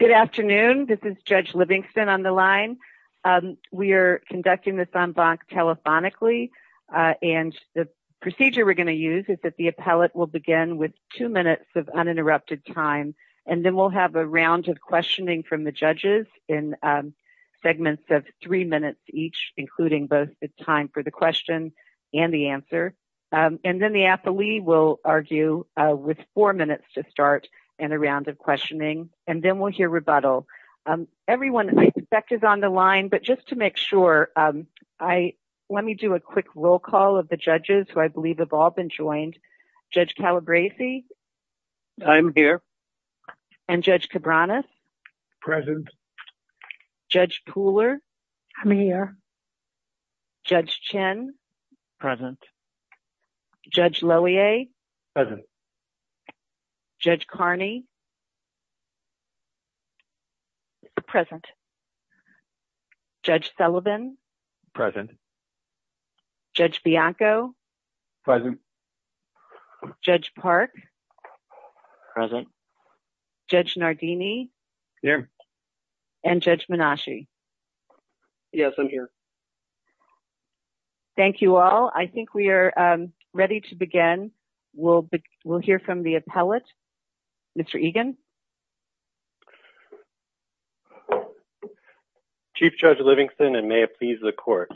Good afternoon. This is Judge Livingston on the line. We are conducting this on box telephonically and the procedure we're going to use is that the appellate will begin with two minutes of uninterrupted time and then we'll have a round of questioning from the judges in segments of three minutes each including both the time for the question and the answer and then the appellee will argue with four minutes to start and a round of questioning and then we'll hear rebuttal. Everyone I suspect is on the line but just to make sure, let me do a quick roll call of the judges who I believe have all been joined. Judge Calabresi? I'm here. Judge Loewe? Present. Judge Carney? Present. Judge Sullivan? Present. Judge Bianco? Present. Judge Park? Present. Judge Nardini? Here. And Judge Menashe? Yes, I'm here. Thank you all. I think we are ready to begin. We'll hear from the appellate. Mr. Egan? Chief Judge Livingston and may it please the court.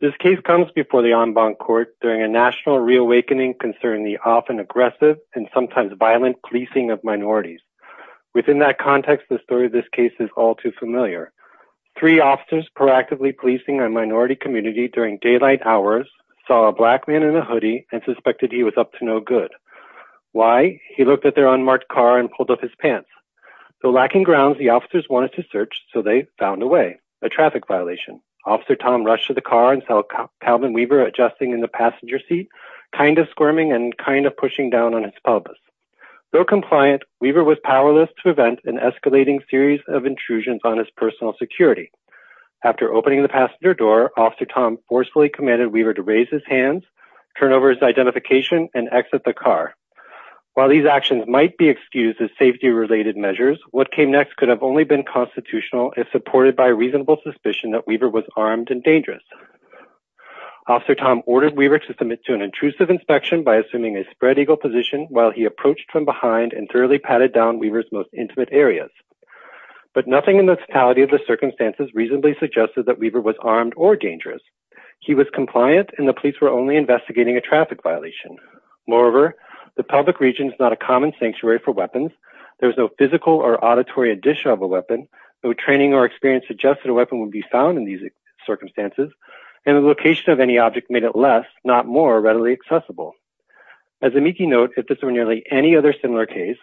This case comes before the en banc court during a national reawakening concerning the often aggressive and sometimes violent policing of minorities. Within that context, the story of this case is all too familiar. Three officers proactively policing a minority community during daylight hours saw a black man in a hoodie and suspected he was up to no good. Why? He looked at their unmarked car and pulled up his pants. So lacking grounds, the officers wanted to search so they found a way. A traffic violation. Officer Tom rushed to the car and saw Calvin Weaver adjusting in the passenger seat, kind of squirming and kind of pushing down on his pelvis. Though compliant, Weaver was door, Officer Tom forcefully commanded Weaver to raise his hands, turn over his identification and exit the car. While these actions might be excused as safety related measures, what came next could have only been constitutional if supported by a reasonable suspicion that Weaver was armed and dangerous. Officer Tom ordered Weaver to submit to an intrusive inspection by assuming a spread eagle position while he approached from behind and thoroughly patted down Weaver's most intimate areas. But nothing in the totality of the circumstances reasonably suggested that Weaver was armed or dangerous. He was compliant and the police were only investigating a traffic violation. Moreover, the public region is not a common sanctuary for weapons. There's no physical or auditory addition of a weapon. No training or experience suggested a weapon would be found in these circumstances and the location of any object made it less, not more readily accessible. As a meekie note, if this were nearly any other similar case,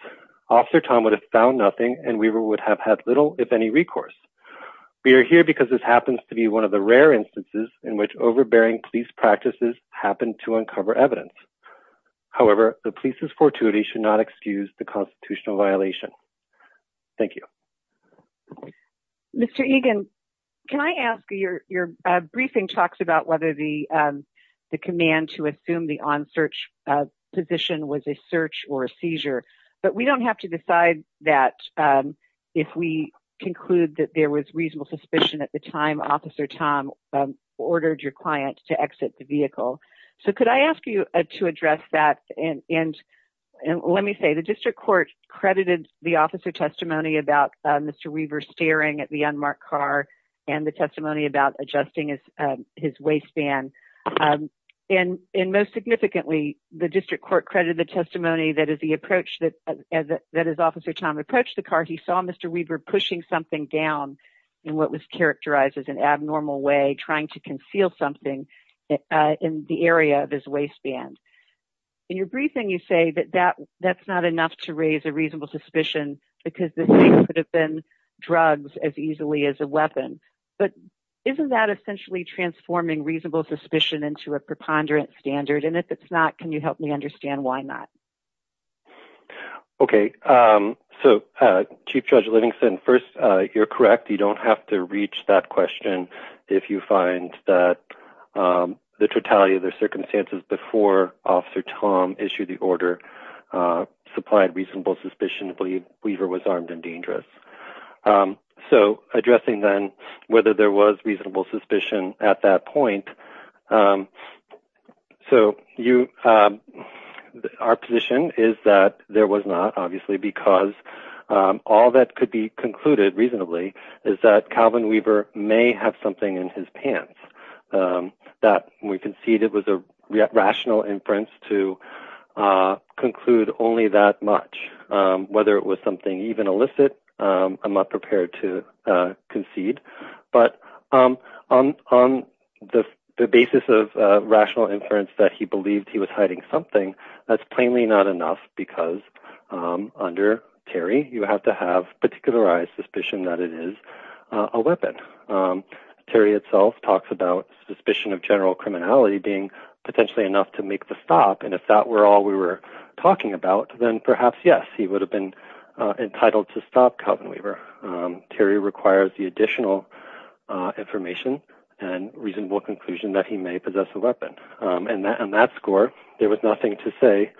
Officer Tom would have found nothing and Weaver would have had little if any recourse. We are here because this happens to be one of the rare instances in which overbearing police practices happen to uncover evidence. However, the police's fortuity should not excuse the constitutional violation. Thank you. Thank you. Mr. Egan, can I ask, your briefing talks about whether the command to assume the on-search position was a search or a seizure, but we don't have to decide that if we conclude that there was reasonable suspicion at the time Officer Tom ordered your client to exit the vehicle. So, could I ask you to address that? And let me say, the district court credited the officer testimony about Mr. Weaver staring at the unmarked car and the testimony about adjusting his waistband. And most significantly, the district court credited the testimony that as the approach that his officer Tom approached the car, he saw Mr. Weaver pushing something down in what was characterized as an abnormal way, trying to conceal something in the area of his waistband. In your briefing, you say that that's not enough to raise a reasonable suspicion because this could have been drugged as easily as a weapon. But isn't that essentially transforming reasonable suspicion into a preponderant standard? And if it's not, can you help me understand why not? Okay. So, Chief Judge Livingston, first, you're correct. You don't have to reach that question if you find that the totality of the Weaver was armed and dangerous. So, addressing then whether there was reasonable suspicion at that point. So, our position is that there was not, obviously, because all that could be concluded reasonably is that Calvin Weaver may have something in his pants that we can see that was a rational inference to conclude only that much. Whether it was something even illicit, I'm not prepared to concede. But on the basis of rational inference that he believed he was hiding something, that's plainly not enough because under Terry, you have to have particularized suspicion that it is a weapon. Terry itself talks about suspicion of general criminality being potentially enough to make the stop. And if that were all we were talking about, then perhaps, yes, he would have been entitled to stop Calvin Weaver. Terry requires the additional information and reasonable conclusion that he may possess a weapon. And that score, there was nothing to say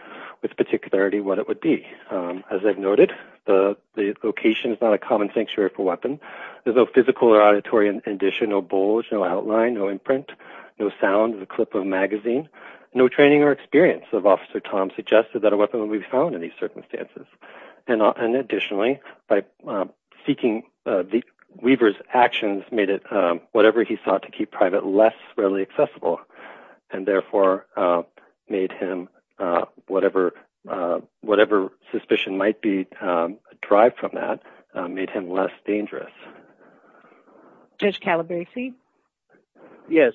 with particularity what it would be. As I've noted, the location is not a common sanctuary for weapons. There's no physical or auditory addition, no bulge, no outline, no imprint, no sound, no clip of magazine, no training or experience of Officer Tom suggested that a weapon would be found in these circumstances. And additionally, by seeking Weaver's actions, made it whatever he thought to keep private less readily accessible and therefore made him, whatever suspicion might be derived from that, made him less dangerous. Judge Calabresi? Yes.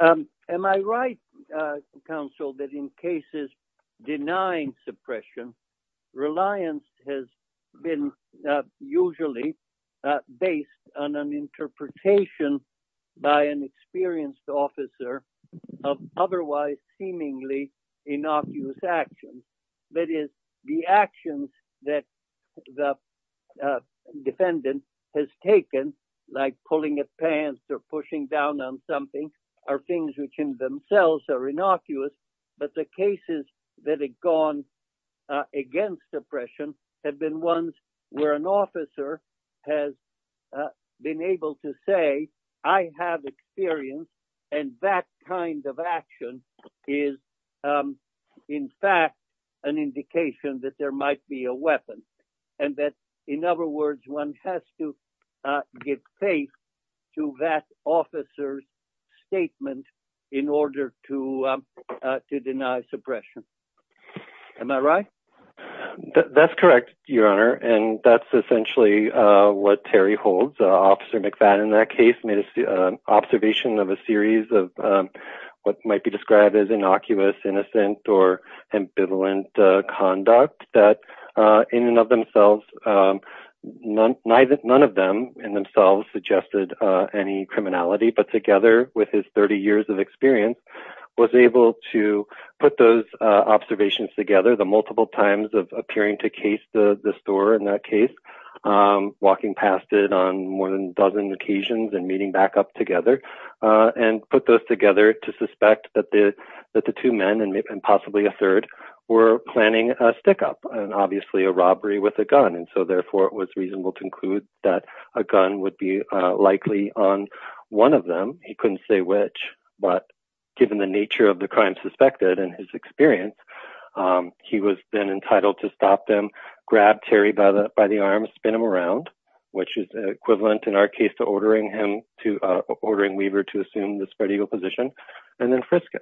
Am I right, counsel, that in cases denying suppression, reliance has been usually based on an interpretation by an experienced officer of otherwise seemingly innocuous actions, that is, the actions that the defendant has taken, like pulling his pants or pushing down on something, are things which in themselves are innocuous. But the cases that have gone against suppression have been ones where an officer has been able to say, I have experience, and that kind of action is, in fact, an indication that there might be a weapon. And that, in other words, one has to give faith to that officer's statement in order to deny suppression. Am I right? That's correct, Your Honor. And that's essentially what Terry holds. Officer McFadden in that case made an observation of a series of what might be described as innocuous, innocent, or ambivalent conduct that in and of themselves, none of them in themselves suggested any criminality, but together with his 30 years of experience, was able to put those observations together, the multiple times of appearing to case the store in that case, walking past it on more than a dozen occasions and meeting back up together, and put those together to suspect that the two men, and possibly a third, were planning a stick-up, and obviously a robbery with a gun. And so, therefore, it was reasonable to conclude that a gun would be likely on one of them. He couldn't say which, but given the nature of the crime suspected and his experience, he was then entitled to stop them, grab Terry by the arm, spin him around, which is equivalent in our case to ordering Weaver to assume the spread-eagle position, and then frisk him.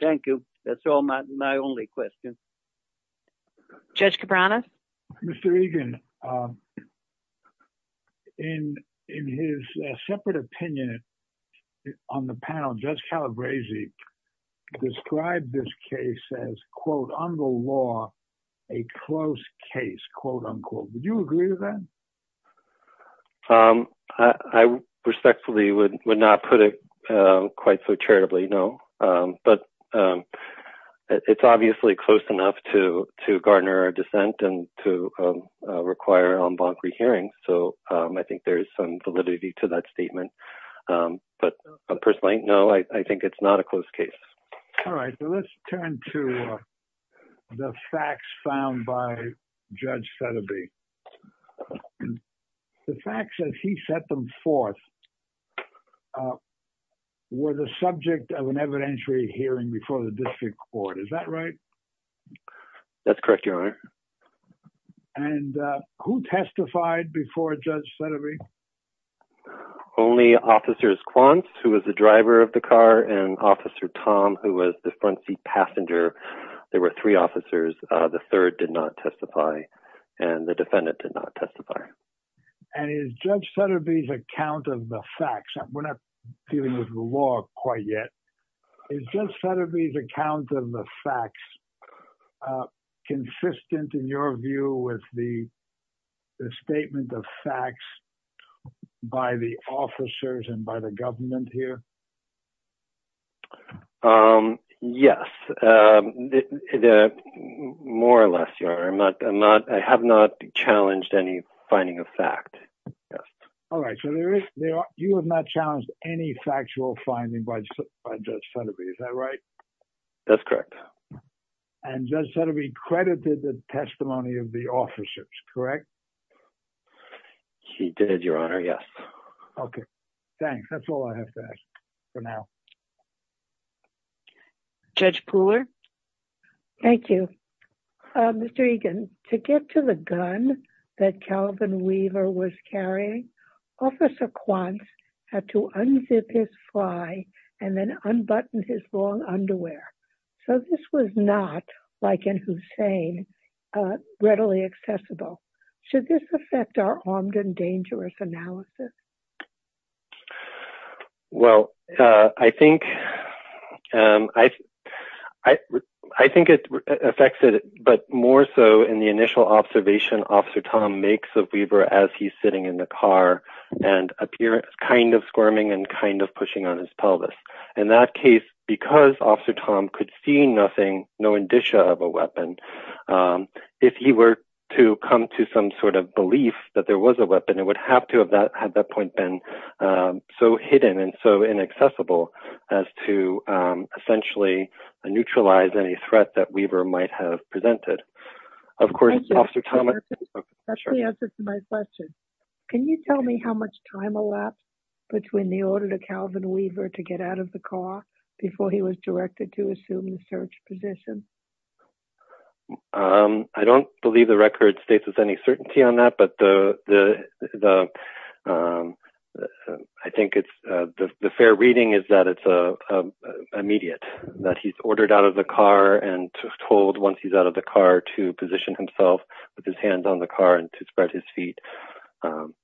Thank you. That's all my only question. Judge Cabrera? Mr. Egan, in his separate opinion on the panel, Judge Calabresi described this case as, quote, on the law, a close case, quote, unquote. Would you agree with that? I respectfully would not put it quite so charitably, no. But it's obviously close enough to garner a dissent and to require an en banc rehearing, so I think there's some validity to that statement. But personally, no, I think it's not a close case. All right, so let's turn to the facts found by Judge Thedeby. The facts that he set them forth were the subject of an evidentiary hearing before the district court, is that right? That's correct, Your Honor. And who testified before Judge Thedeby? Only Officers Quance, who was the driver of the car, and Officer Tom, who was the front seat passenger. There were three officers. The third did not testify, and the defendant did not testify. And is Judge Thedeby's account of the facts, we're not dealing with the law quite yet, is Judge Thedeby's account of the facts consistent, in your view, with the statement of facts by the officers and by the government here? Yes, more or less, Your Honor. I have not challenged any finding of fact. All right, so you have not challenged any factual finding by Judge Thedeby, is that right? That's correct. And Judge Thedeby credited the testimony of the officers, correct? Did, Your Honor, yes. Okay, thanks. That's all I have to ask for now. Judge Pooler? Thank you. Mr. Egan, to get to the gun that Calvin Weaver was carrying, Officer Quance had to unzip his fly and then unbutton his long underwear. So this was not, like in Hussein, readily accessible. Should this affect our dangerous analysis? Well, I think it affects it, but more so in the initial observation Officer Tom makes of Weaver as he's sitting in the car and appears kind of squirming and kind of pushing on his pelvis. In that case, because Officer Tom could see nothing, no indicia of a weapon, if he were to come to some sort of belief that there was a weapon, it would have to have that point been so hidden and so inaccessible as to essentially neutralize any threat that Weaver might have presented. Of course, Officer Tom... That's the answer to my question. Can you tell me how much time elapsed between the order to Calvin Weaver to get out of the car before he was directed to assume the search position? I don't believe the record states with any certainty on that, but I think the fair reading is that it's immediate, that he's ordered out of the car and told, once he's out of the car, to position himself with his hands on the car and to spread his feet in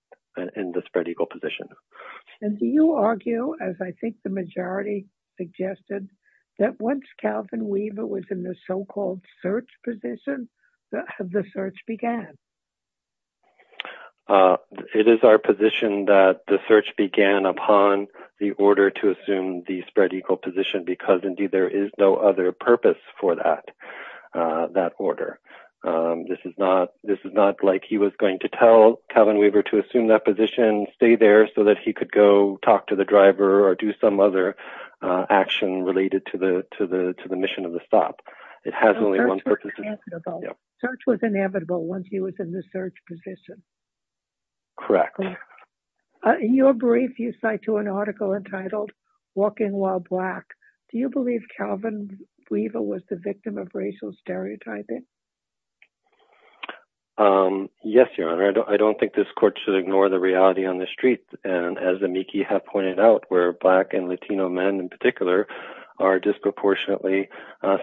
the spread-eagle position. And do you argue, as I think the majority suggested, that once Calvin Weaver was in the so-called search position, the search began? It is our position that the search began upon the order to assume the spread-eagle position, because indeed there is no other purpose for that order. This is not like he was going to tell Calvin Weaver to assume that position, stay there so that he could go talk to the driver or do some other action related to the mission of the stop. Search was inevitable once he was in the search position. Correct. In your brief, you cite to an article entitled, Walking While Black. Do you believe Calvin Weaver was the victim of racial stereotyping? Yes, Your Honor. I don't think this court should ignore the reality on the street, and as Amiki has pointed out, where black and Latino men in particular are disproportionately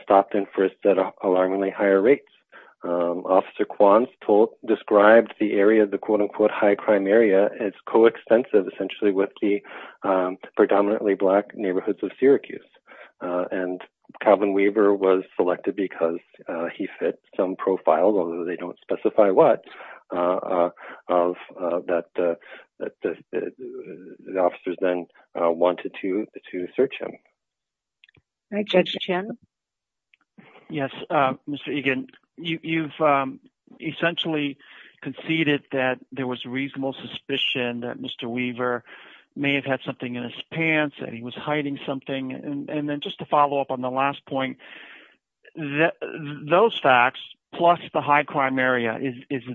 stopped and frisked at alarmingly higher rates. Officer Kwan described the area, the quote-unquote high-crime area, as co-extensive essentially with the predominantly black neighborhoods of Syracuse. And Calvin Weaver was selected because he fit some profile, they don't specify what, that the officers then wanted to search him. All right, Judge Chen. Yes, Mr. Egan, you've essentially conceded that there was reasonable suspicion that Mr. Weaver may have had something in his pants and he was hiding something. And is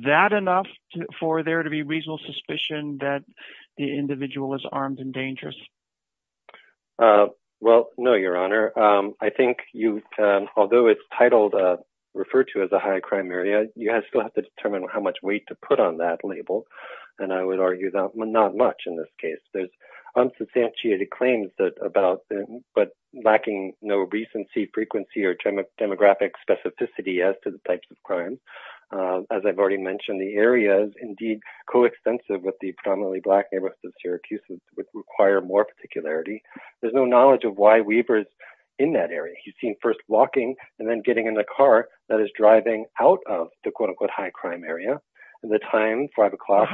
that enough for there to be reasonable suspicion that the individual was armed and dangerous? Well, no, Your Honor. I think you, although it's titled, referred to as a high-crime area, you still have to determine how much weight to put on that label. And I would argue that not much in this case. There's unsubstantiated claims that about, but lacking no recency, frequency, or demographic specificity as to the types of crime. As I've already mentioned, the area is indeed co-extensive with the predominantly black neighborhoods of Syracuse, which require more particularity. There's no knowledge of why Weaver's in that area. He's seen first walking and then getting in a car that is driving out of the quote-unquote high-crime area at the time 5 o'clock.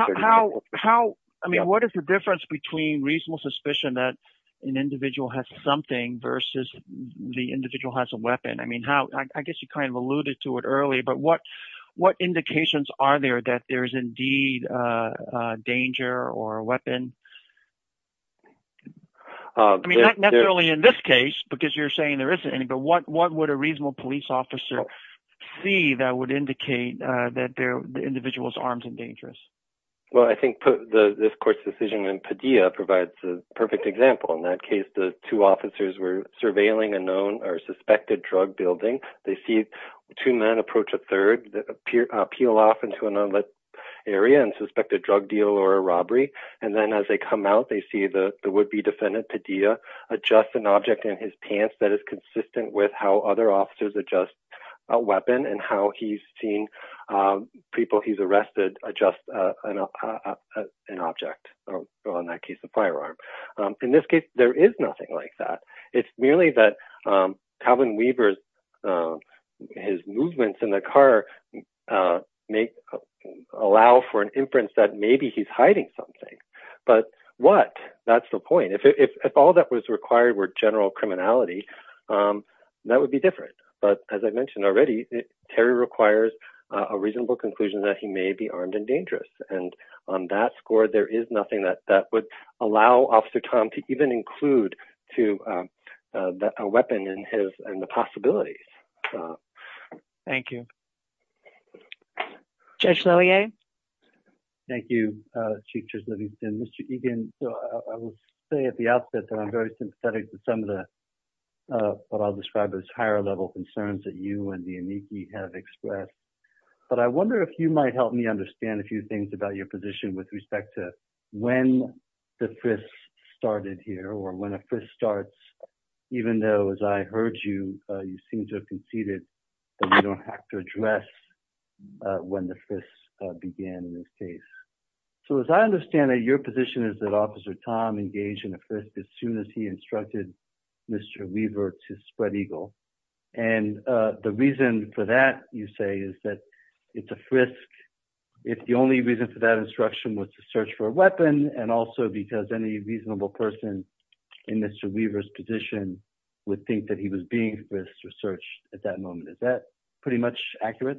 I mean, what is the difference between reasonable suspicion that an individual has something versus the individual has a weapon? I mean, I guess you kind of alluded to it early, but what indications are there that there's indeed a danger or a weapon? I mean, not necessarily in this case, because you're saying there isn't any, but what would a reasonable police officer see that would indicate that the individual's arms are dangerous? Well, I think this court's decision in Padilla provides a perfect example. In that case, the two officers were surveilling a known or suspected drug building. They see two men approach a third, appeal off into an unlit area and suspect a drug deal or a robbery. And then as they come out, they see the would-be defendant, Padilla, adjust an object in his pants that is consistent with how other officers adjust a weapon and how he's seen people he's arrested adjust an object, or in that case, a firearm. In this case, there is nothing like that. It's merely that Calvin Weaver's movements in the car may allow for an inference that maybe he's hiding something. But what? That's the point. If all that was required were general criminality, that would be different. But as I mentioned already, Terry requires a reasonable conclusion that he may be armed and dangerous. And on that score, there is nothing that would allow Officer Tom to even include a weapon in the possibilities. Thank you. Judge Lillian? Thank you, Chief Justice Livingston. Mr. Egan, I will say at the outset that I'm very sympathetic to some of what I'll describe as higher-level concerns that you and the amici have expressed. But I wonder if you might help me understand a few things about your position with respect to when the frisk started here, or when a frisk starts, even though, as I heard you, you seem to have conceded that you don't have to address when the frisk began in this case. So as I understand it, your position is that Officer Tom engaged in a frisk as soon as he was arrested. Is that pretty much accurate?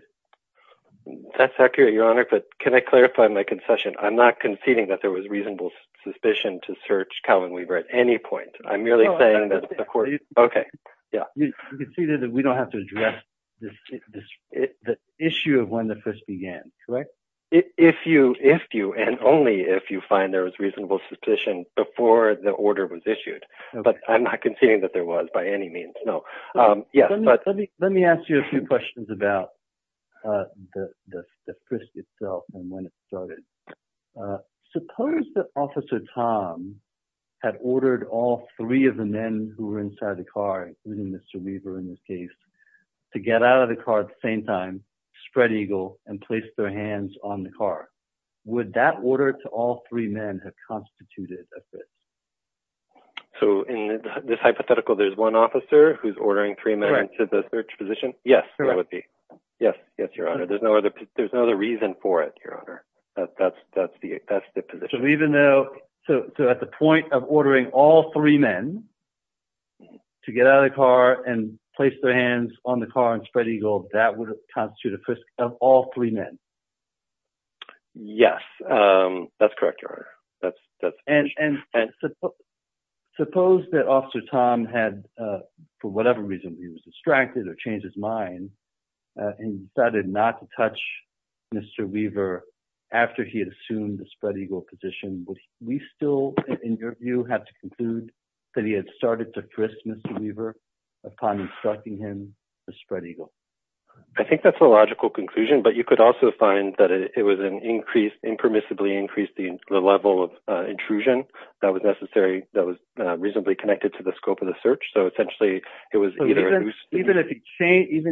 That's accurate, Your Honor. But can I clarify my concession? I'm not conceding that there was reasonable suspicion to search Calvin Weaver at any point. I'm merely saying that the court... You conceded that we don't have to address the issue of when the frisk began, correct? If you and only if you find there was reasonable suspicion before the order was issued. But I'm not conceding that there was by any means, no. Yes, but... Let me ask you a few questions about the frisk itself and when it started. Suppose that Officer Tom had ordered all three of the men who were inside the car, including Mr. Weaver in this case, to get out of the car at the same time, spread eagle, and place their hands on the car. Would that order to all three men have constituted a fit? So in this hypothetical, there's one officer who's ordering three men to the search position? Yes, there would be. Yes, Your Honor. There's no other reason for it, Your Honor. That's the position. So even though... So at the point of ordering all three men to get out of the car and place their hands on the car and spread eagle, that would constitute a frisk of all three men? Yes, that's correct, Your Honor. That's... Suppose that Officer Tom had, for whatever reason, he was distracted or changed his mind and decided not to touch Mr. Weaver after he had assumed the spread eagle position, would we still, in your view, have to conclude that he had started to frisk Mr. Weaver upon instructing him to spread eagle? I think that's a logical conclusion, but you could also find that it was an increase, impermissibly increased the level of intrusion that was necessary, that was reasonably connected to the scope of the search. So essentially, it was either... Even if he changed...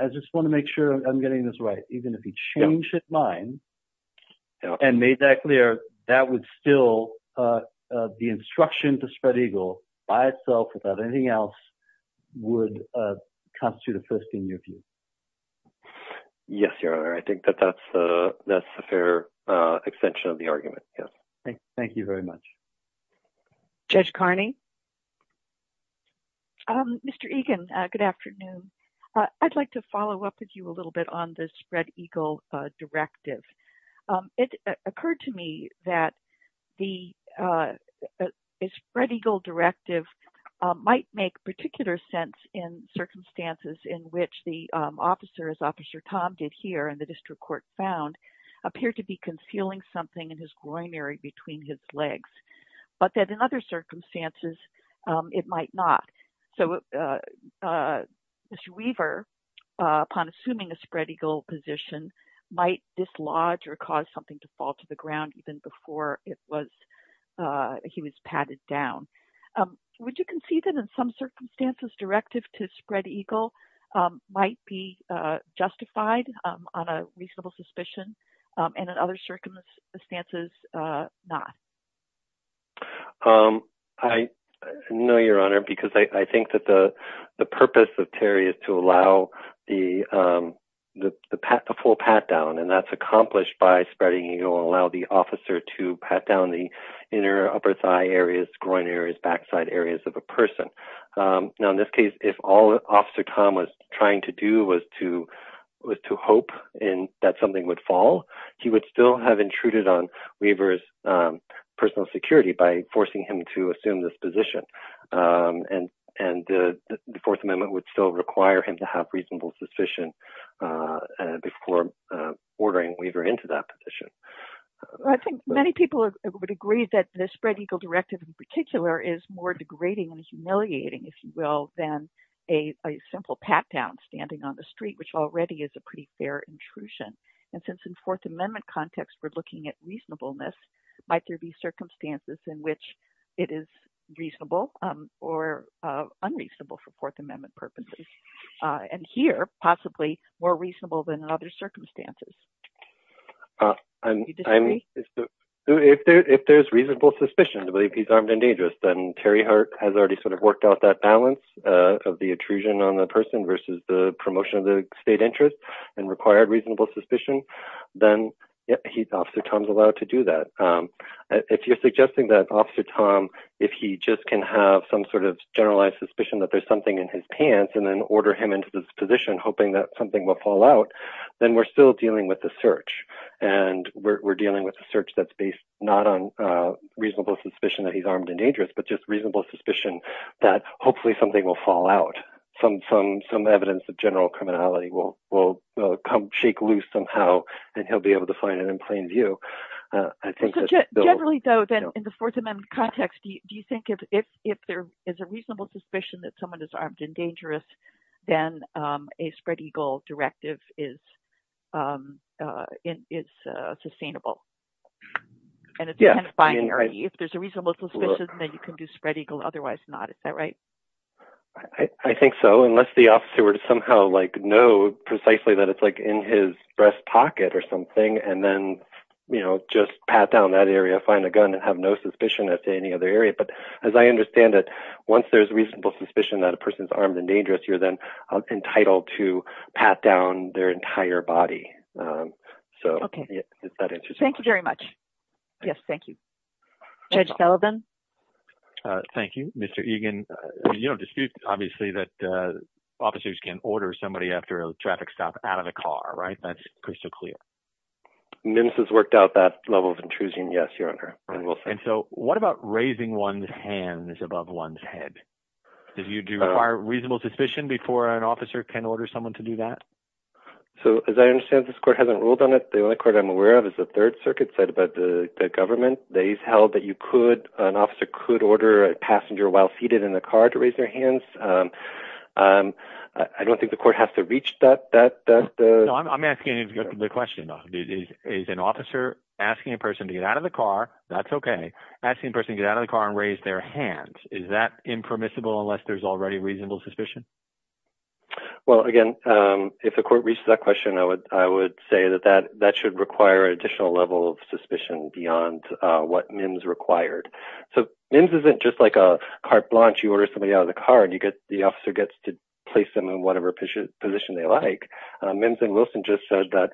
I just want to make sure I'm getting this right. Even if he changed his mind and made that clear, that would still... The instruction to spread eagle by itself, without anything else, would constitute a frisking, in your view? Yes, Your Honor. I think that that's a fair extension of the argument, yes. Thank you very much. Judge Carney? Mr. Egan, good afternoon. I'd like to follow up with you a little bit on this spread eagle directive. It occurred to me that the spread eagle directive might make particular sense in circumstances in which the officer, as Officer Tom did here in the district court found, appeared to be concealing something in his groin area between his legs, but that in other circumstances, it might not. So Mr. Weaver, upon assuming a spread eagle position, might dislodge or cause something to fall to the ground even before he was patted down. Would you concede that in some circumstances, directive to spread eagle might be justified on a reasonable suspicion, and in other circumstances, not? I know, Your Honor, because I think that the purpose of Terry is to allow the full pat down, and that's accomplished by spreading eagle, allow the officer to pat down the inner upper thigh areas, groin areas, backside areas of a person. Now, in this case, if all Officer Tom was trying to do was to hope that something would fall, he would still have intruded on Weaver's personal security by forcing him to assume this position, and the Fourth Amendment would still require him to have reasonable suspicion before ordering Weaver into that position. I think many people would agree that the spread eagle directive in particular is more degrading and humiliating, if you will, than a simple pat down standing on the street, which already is a pretty fair intrusion. And since in Fourth Amendment context, we're looking at reasonableness, might there be circumstances in which it is reasonable or unreasonable for Fourth Amendment purposes, and here, possibly more reasonable than other circumstances? If there's reasonable suspicion to believe he's armed and dangerous, then Terry has already sort of worked out that balance of the intrusion on the person versus the promotion of the state interest and required reasonable suspicion, then Officer Tom's allowed to do that. If you're suggesting that Officer Tom, if he just can have some sort of generalized suspicion that there's something in his pants and then order him into this position, hoping that something will fall out, then we're still dealing with the search. And we're dealing with a search that's based not on reasonable suspicion that he's armed and dangerous, but just reasonable suspicion that hopefully something will fall out. Some evidence of general criminality will shake loose somehow, and he'll be able to find it in plain view. Generally, though, in the Fourth Amendment context, do you think if there is a reasonable suspicion that someone is armed and dangerous, then a spread eagle directive is sustainable? And it's kind of binary. If there's a reasonable suspicion, then you can do spread eagle. Otherwise not. Is that right? I think so, unless the officer were to somehow know precisely that it's in his breast pocket or something, and then just pat down that area, find a gun, and have no suspicion that's in any other area. But as I understand it, once there's reasonable suspicion that a person's armed and dangerous, you're then entitled to pat down their entire body. So is that interesting? Thank you very much. Yes, thank you. Judge Sullivan? Thank you, Mr. Egan. You don't dispute, obviously, that officers can order somebody after a traffic stop out of a car, right? That's crystal clear. Mimms has worked out that level of intrusion, yes, Your Honor. And so what about raising one's hands above one's head? Did you require reasonable suspicion before an officer can order someone to do that? So as I understand, this court hasn't ruled on it. The only court I'm aware of is the Third Circuit side about the government. They've held that an officer could order a passenger while seated in a car to raise their hands. I don't think the court has to reach that. I'm asking the question, though. Is an officer asking a person to get out of the car, that's okay. Asking a person to get out of the car and raise their hands, is that impermissible unless there's already reasonable suspicion? Well, again, if the court reached that question, I would say that that should require an additional level of suspicion beyond what Mimms required. So Mimms isn't just like a carte blanche. You order somebody out of the car and the officer gets to place them in whatever position they like. Mimms and Wilson just said that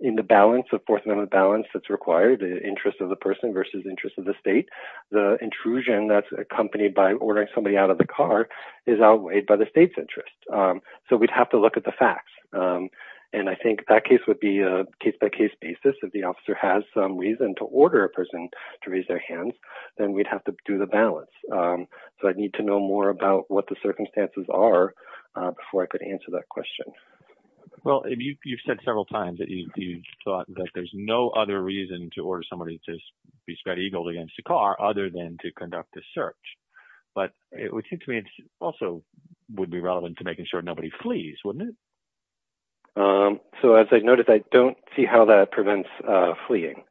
in the fourth amendment balance that's required, the interest of the person versus the interest of the state, the intrusion that's accompanied by ordering somebody out of the car is outweighed by the interest. So we'd have to look at the facts. And I think that case would be a case-by-case basis. If the officer has some reason to order a person to raise their hands, then we'd have to do the balance. So I'd need to know more about what the circumstances are before I could answer that question. Well, you've said several times that you thought that there's no other reason to order somebody to be spat eagled against the car other than to conduct a search. But it would seem to me also would be relevant to making sure nobody flees, wouldn't it? So as I noticed, I don't see how that prevents fleeing.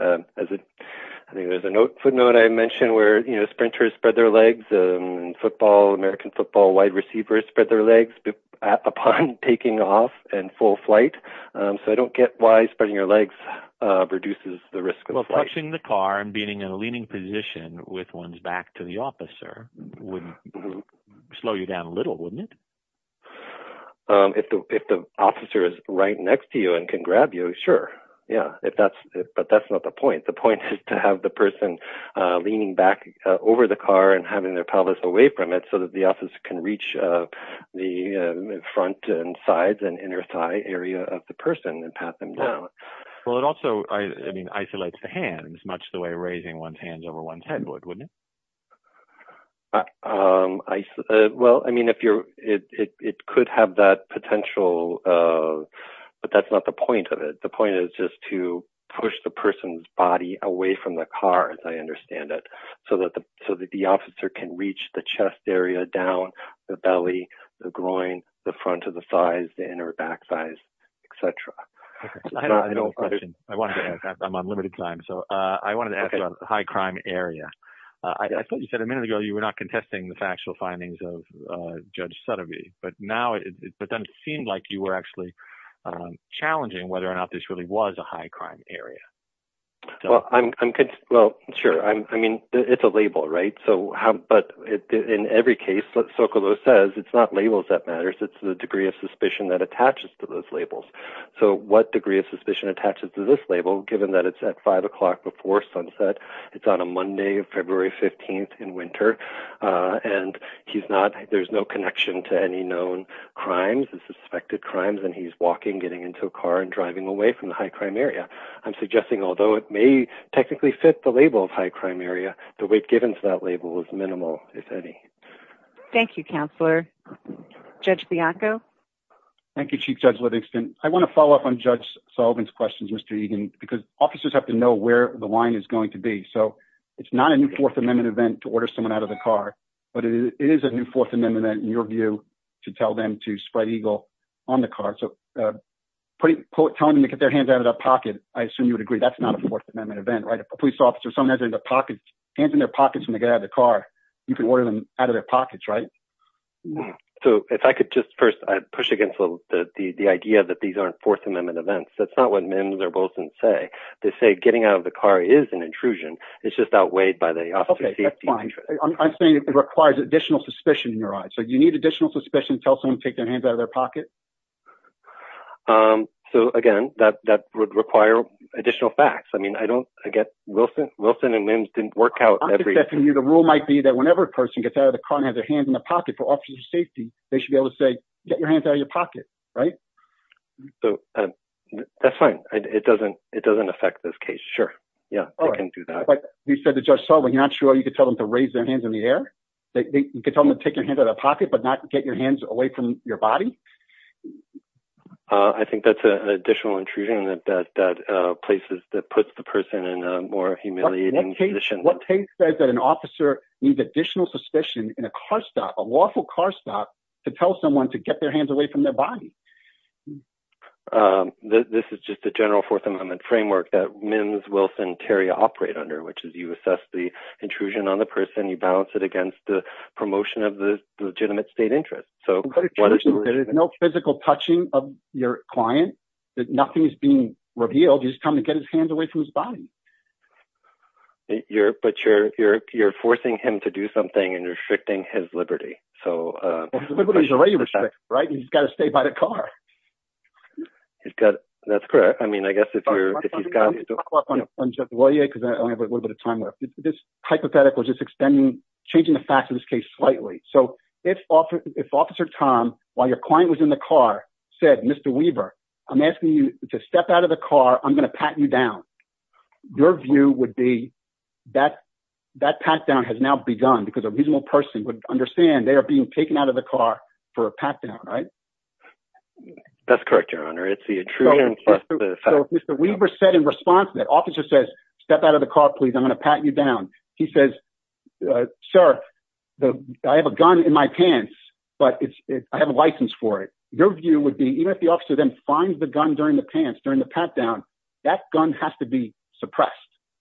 As a footnote, I mentioned where sprinters spread their legs, American football wide receivers spread their legs upon taking off in full flight. So I don't get why spreading your legs reduces the risk of flight. Well, touching the car and being in a leaning position with one's back to the officer would slow you down a little, wouldn't it? If the officer is right next to you and can grab you, sure. But that's not the point. The point is to have the person leaning back over the car and having their pelvis away from it so that the officer can reach the front and sides and inner thigh area of the person and pat them down. Well, it also isolates the hands much the way one's hands over one's head would, wouldn't it? Well, I mean, it could have that potential, but that's not the point of it. The point is just to push the person's body away from the car as I understand it so that the officer can reach the chest area down the belly, the groin, the front of the thighs, the inner back thighs, et cetera. Okay. I have a question. I'm on limited time. So I wanted to ask about the high crime area. I thought you said a minute ago, you were not contesting the factual findings of Judge Sutterby, but then it seemed like you were actually challenging whether or not this really was a high crime area. Well, sure. I mean, it's a label, right? But in every case, what Sokolow says, it's not labels that matters. It's the degree of suspicion that attaches to those labels. So what degree of suspicion attaches to this label, given that it's at five o'clock before sunset, it's on a Monday of February 15th in winter, and he's not, there's no connection to any known crimes and suspected crimes. And he's walking, getting into a car and driving away from the high crime area. I'm suggesting, although it may technically fit the label of high crime area, the weight given to that Judge Bianco. Thank you, Chief Judge Livingston. I want to follow up on Judge Sullivan's questions, Mr. Egan, because officers have to know where the line is going to be. So it's not a new fourth amendment event to order someone out of the car, but it is a new fourth amendment in your view, to tell them to spread Eagle on the car. So tell them to get their hands out of that pocket. I assume you would agree. That's not a fourth amendment event, right? A police officer, someone has in their pockets, hands in their pockets when they get out of the car, you can order them out of their pockets, right? So if I could just first push against the idea that these aren't fourth amendment events, that's not what Mims or Wilson say. They say getting out of the car is an intrusion. It's just outweighed by the officer's safety. I'm saying it requires additional suspicion in your eyes. So you need additional suspicion to tell someone to take their hands out of their pocket. So again, that would require additional facts. I mean, I don't, Wilson and Mims didn't work out. I'm suspecting you the rule might be that whenever a person gets out of the car and has their hands in the pocket for officer's safety, they should be able to say, get your hands out of your pocket, right? So that's fine. It doesn't affect this case. Sure. Yeah, I can do that. Like you said to Judge Sullivan, you're not sure you could tell them to raise their hands in the air. You could tell them to take your hand out of the pocket, but not get your hands away from your body. I think that's an additional intrusion that places, that puts the person in a more humiliating position. What case says that an officer needs additional suspicion in a car stop, a lawful car stop, to tell someone to get their hands away from their body? This is just a general Fourth Amendment framework that Mims, Wilson, Terry operate under, which is you assess the intrusion on the person, you balance it against the promotion of the legitimate state interest. So there's no physical touching of your client, that nothing's being revealed. He's coming to get his hands away from his body. You're forcing him to do something and you're restricting his liberty. So he's got to stay by the car. That's correct. I mean, I guess if you're, if you've got. This hypothetical is just extending, changing the facts of this case slightly. So if officer Tom, while your client was in the car, said, Mr. Weaver, I'm asking you to step out of the car. I'm going to pat you down. Your view would be that, that pat down has now begun because a reasonable person would understand they are being taken out of the car for a pat down, right? That's correct, your honor. It's the intrusion plus the fact. So if Mr. Weaver said in response to that, officer says, step out of the car, please. I'm going to pat you down. He says, uh, Sheriff, the, I have a gun in my pants, but it's, I have a license for it. Your view would be, even if the officer then finds the gun during the pants, during the pat down, that gun has to be suppressed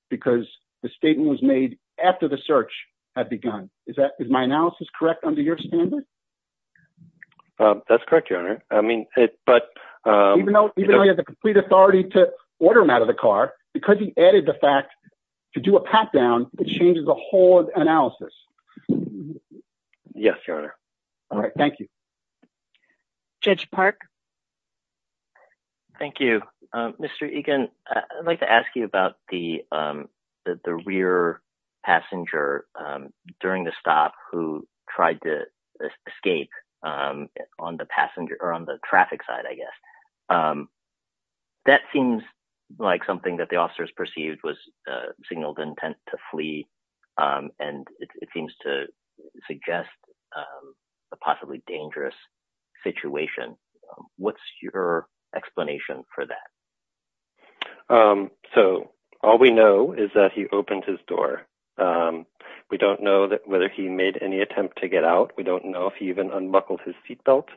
because the statement was made after the search had begun. Is that, is my analysis correct under your standard? That's correct, your honor. I mean, but. Even though, even though he has a complete authority to order him out of the car, because he added the fact to do a pat down, it changes the whole analysis. Yes, your honor. All right. Thank you. Judge Park. Thank you, Mr. Egan. I'd like to ask you about the, um, the rear passenger, um, during the stop who tried to escape, um, on the passenger or on the traffic side, I guess. Um, that seems like something that the officers perceived was a signal of intent to flee. Um, and it seems to suggest, um, a possibly dangerous situation. What's your explanation for that? Um, so all we know is that he opened his door. Um, we don't know that whether he made any attempt to get out. We don't know if he even unbuckled his seatbelt.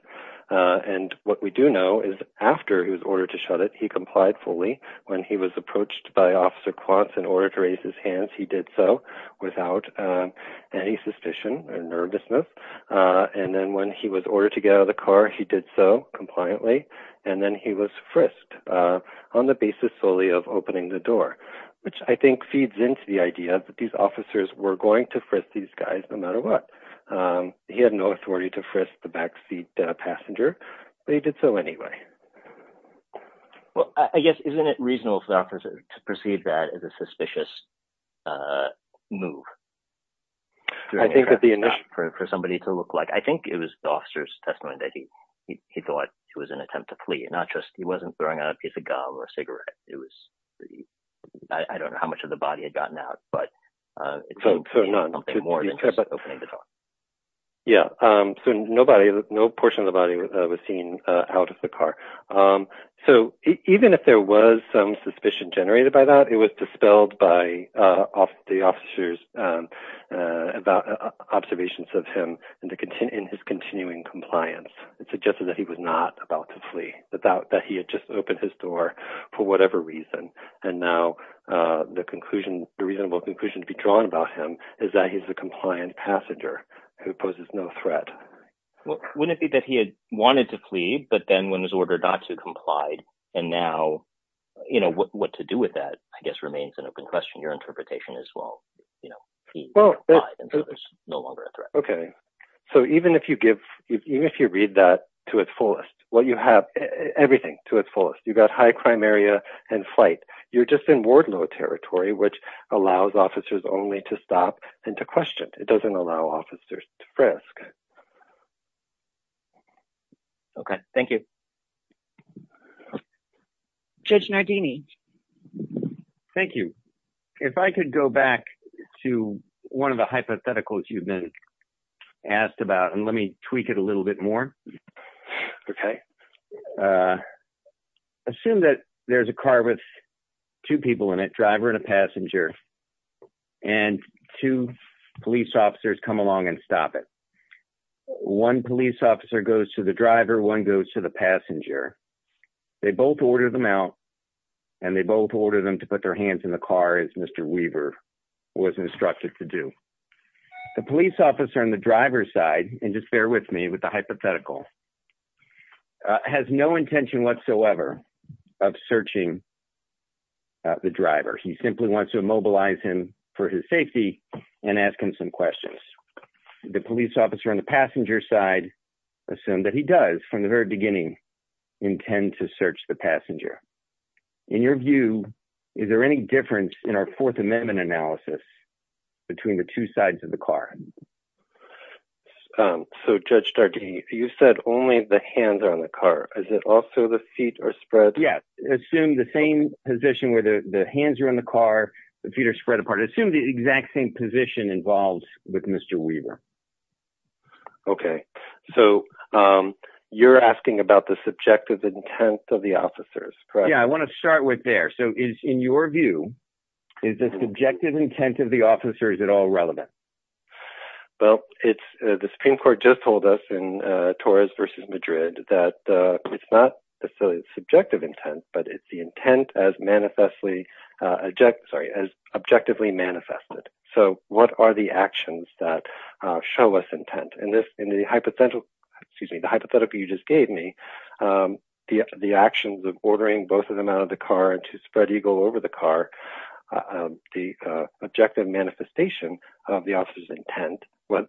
Uh, and what we do know is after he was ordered to shut it, he complied fully when he was approached by officer quants in order to raise his hands. He did so without, um, any suspicion or nervousness. Uh, and then when he was ordered to get out of the car, he did so compliantly. And then he was frisked, uh, on the basis solely of opening the door, which I think feeds into the idea that these officers were going to frisk these guys, no matter what. Um, he had no authority to frisk the backseat passenger, but he did so anyway. Well, I guess, isn't it reasonable for doctors to perceive that as a suspicious, uh, move? I think that the initial for somebody to look like, I think it was the officer's testimony that he, he thought it was an attempt to flee and not just, he wasn't throwing out a piece of gum or a cigarette. It was, I don't know how much of the body had gotten out, but, uh, yeah. Um, so nobody, no portion of the body was seen, uh, out of the car. Um, so even if there was some suspicion generated by that, it was dispelled by, uh, off the officers, um, uh, about observations of him and the content in his continuing compliance. It suggested that he was not about to flee without that. He had just opened his door for whatever reason. And now, uh, the conclusion, the reasonable conclusion to be drawn about him is that he's a compliant passenger who poses no threat. Well, wouldn't it be that he had wanted to flee, but then when his order got to complied and now, you know, what, what to do with that, I guess, remains an open question. Your interpretation as well, you know, there's no longer a threat. Okay. So even if you give, even if you read that to its fullest, what you have everything to its fullest, you've got and flight. You're just in Wardlow territory, which allows officers only to stop and to question. It doesn't allow officers to frisk. Okay. Thank you. Judge Nardini. Thank you. If I could go back to one of the hypotheticals you've been asked about and let me tweak it a little bit more. Okay. Uh, assume that there's a car with two people in it, driver and a passenger, and two police officers come along and stop it. One police officer goes to the driver. One goes to the passenger. They both ordered them out and they both ordered them to put their hands in the car. As Mr. Weaver was instructed to do the police officer on the driver's side. And just bear with me with the hypothetical has no intention whatsoever of searching the driver. He simply wants to immobilize him for his safety and ask him some questions. The police officer on the passenger side, assume that he does from the very beginning intend to search the passenger. In your view, is there any difference in our fourth amendment analysis between the two sides of the car? Um, so Judge Nardini, you said only the hands on the car. Is it also the feet are spread? Yes. Assume the same position where the hands are in the car, the feet are spread apart. Assume the exact same position involves with Mr. Weaver. Okay. So, um, you're asking about the subjective intent of the officers, right? Yeah. I want to all relevant, but it's, uh, the Supreme court just told us in, uh, Torres versus Madrid that, uh, it's not the silly subjective intent, but it's the intent as manifestly, uh, object, sorry, as objectively manifested. So what are the actions that show us intent in this, in the hypothetical, excuse me, the hypothetical you just gave me, um, the, the actions of ordering both of them out of the car and to spread Eagle over the car, uh, the, uh, objective manifestation of the officers intent,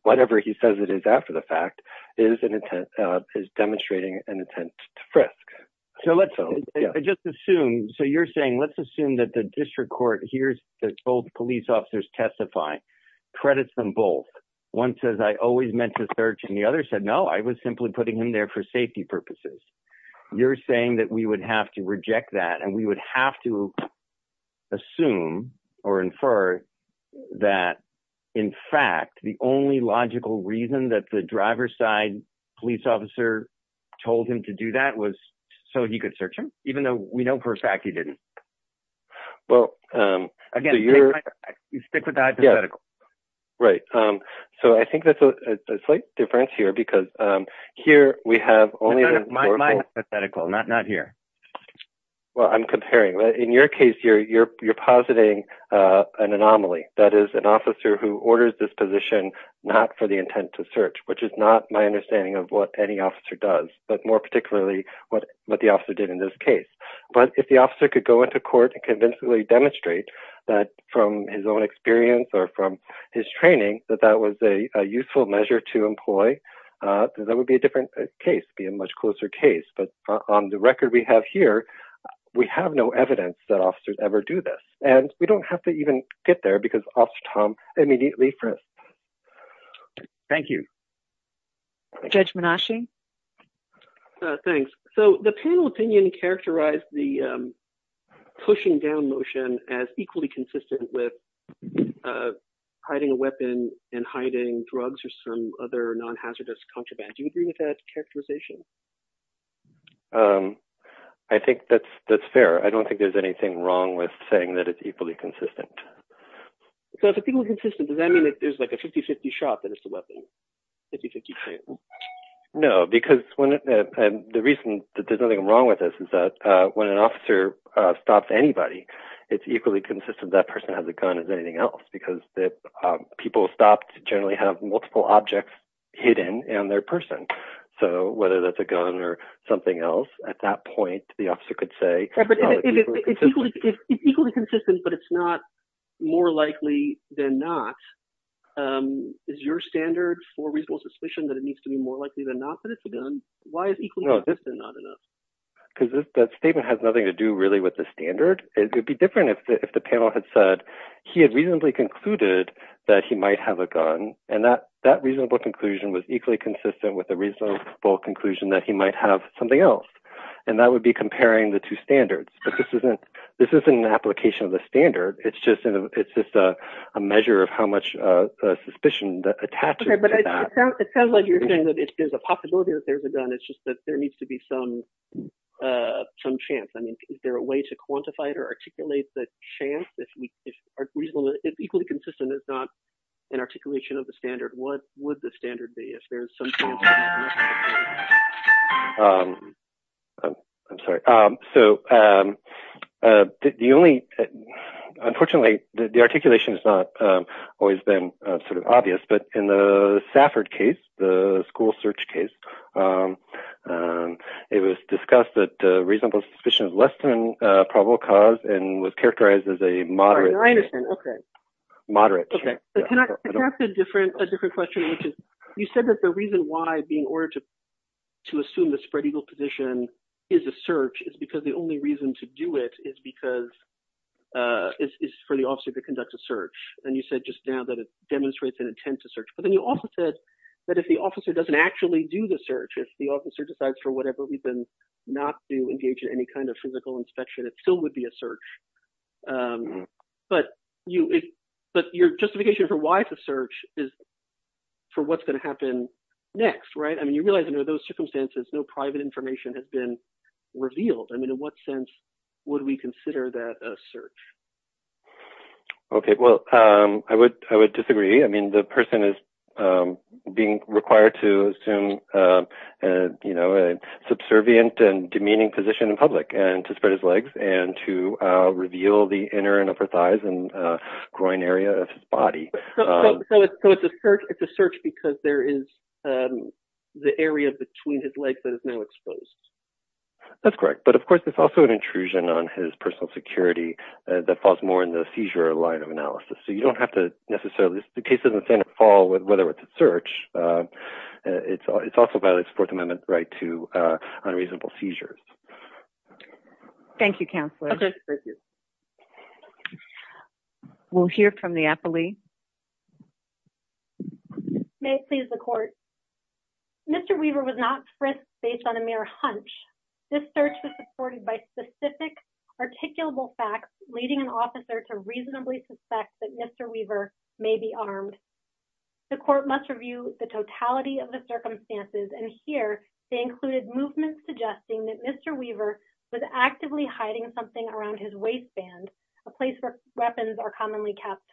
whatever he says it is after the fact is an intent, uh, is demonstrating an attempt to frisk. So let's just assume. So you're saying, let's assume that the district court here's this old police officers testify credits them both. One says, I always meant to search. And the other said, no, I was simply putting in there for safety purposes. You're saying that we would have to reject that. And we would have to assume or infer that in fact, the only logical reason that the driver's side police officer told him to do that was so he could search him even though we know for a fact he didn't. Well, um, again, you're right. Um, so I think that's a slight difference here because, um, here we have only hypothetical, not, not here. Well, I'm comparing in your case here, you're, you're positing, uh, an anomaly that is an officer who orders this position, not for the intent to search, which is not my understanding of what any officer does, but more particularly what, what the officer did in this case. But if the officer could go into court and convincingly demonstrate that from his own experience or from his training, that that was a useful measure to employ, uh, that would be a different case, be a much closer case. But on the record we have here, we have no evidence that officers ever do this and we don't have to even get there because Officer Tom immediately prints. Thank you. Judge Menashe. Thanks. So the panel opinion characterized the, um, pushing down motion as equally consistent with, uh, hiding a weapon and hiding drugs or some other non-hazardous contraband. Do you agree with that characterization? Um, I think that's, that's fair. I don't think there's anything wrong with saying that it's equally consistent. So if it's equally consistent, does that mean that there's like a 50-50 shot that it's a weapon? No, because when, uh, the reason that there's nothing wrong with this is that, uh, when an officer, uh, stops anybody, it's equally consistent that person has a gun as anything else because that, um, people stop to generally have multiple objects hidden and their person. So whether that's a gun or something else at that point, the officer could say, it's equally consistent, but it's not more likely than not. Um, is your standard for reasonable suspicion that it needs to be more likely than not that it's a gun? Why is equally consistent not enough? Because that statement has nothing to do really with the standard. It would be different if the panel had said he had reasonably concluded that he might have a gun. And that, that reasonable conclusion was equally consistent with a reasonable conclusion that he might have something else. And that would be comparing the two standards, but this isn't, this isn't an application of the standard. It's just, it's just a measure of how much, uh, suspicion that attaches to that. Okay, but it sounds like you're saying that if there's a possibility that there's a gun, it's just that there needs to be some, uh, some chance. I mean, is there a way to quantify it or articulate the chance if we, if reasonably, if equally consistent, it's not an articulation of the standard, what would the standard be if there's some chance? Um, I'm sorry. Um, so, um, uh, the only, unfortunately the articulation is not, um, always been sort of obvious, but in the Safford case, the school search case, um, um, it was discussed that, uh, reasonable suspicion is less than a probable cause and was characterized as a moderate. I understand. Okay. Moderate. Can I ask a different, a different question? You said that the reason why being ordered to, to assume the spread eagle position is a search is because the only reason to do it is because, uh, it's for the officer to conduct a search. And you said just now that it demonstrates an intent to search, but then you also said that if the officer doesn't actually do the search, if the officer decides for whatever reason, not to engage in any kind of physical inspection, it still would be a search. Um, but you, but your justification for why the search is for what's going to happen next. Right. I mean, you realize, you know, those circumstances, no private information has been revealed. I mean, in what sense would we consider that a search? Okay. Well, um, I would, I would disagree. I mean, the person is, um, being required to assume, uh, uh, you know, a subservient and demeaning position in public and to spread his legs and to, uh, reveal the inner and upper thighs and, uh, groin area of his body. So it's a search, it's a search because there is, um, the area between his legs that is now exposed. That's correct. But of course, it's also an intrusion on his personal security that falls more in the seizure line of analysis. So you don't have to necessarily, the case doesn't stand to fall with whether it's a search. Uh, uh, it's, it's also violates fourth amendment right to, uh, unreasonable seizures. Thank you, counselor. We'll hear from the appellee. May it please the court. Mr. Weaver was not pressed based on a mere hunch. This search was supported by specific articulable facts, leading an officer to reasonably suspect that Mr. Weaver may be armed. The court must review the totality of the circumstances. And here they included movements suggesting that Mr. Weaver was actively hiding something around his waistband, a place where weapons are commonly kept.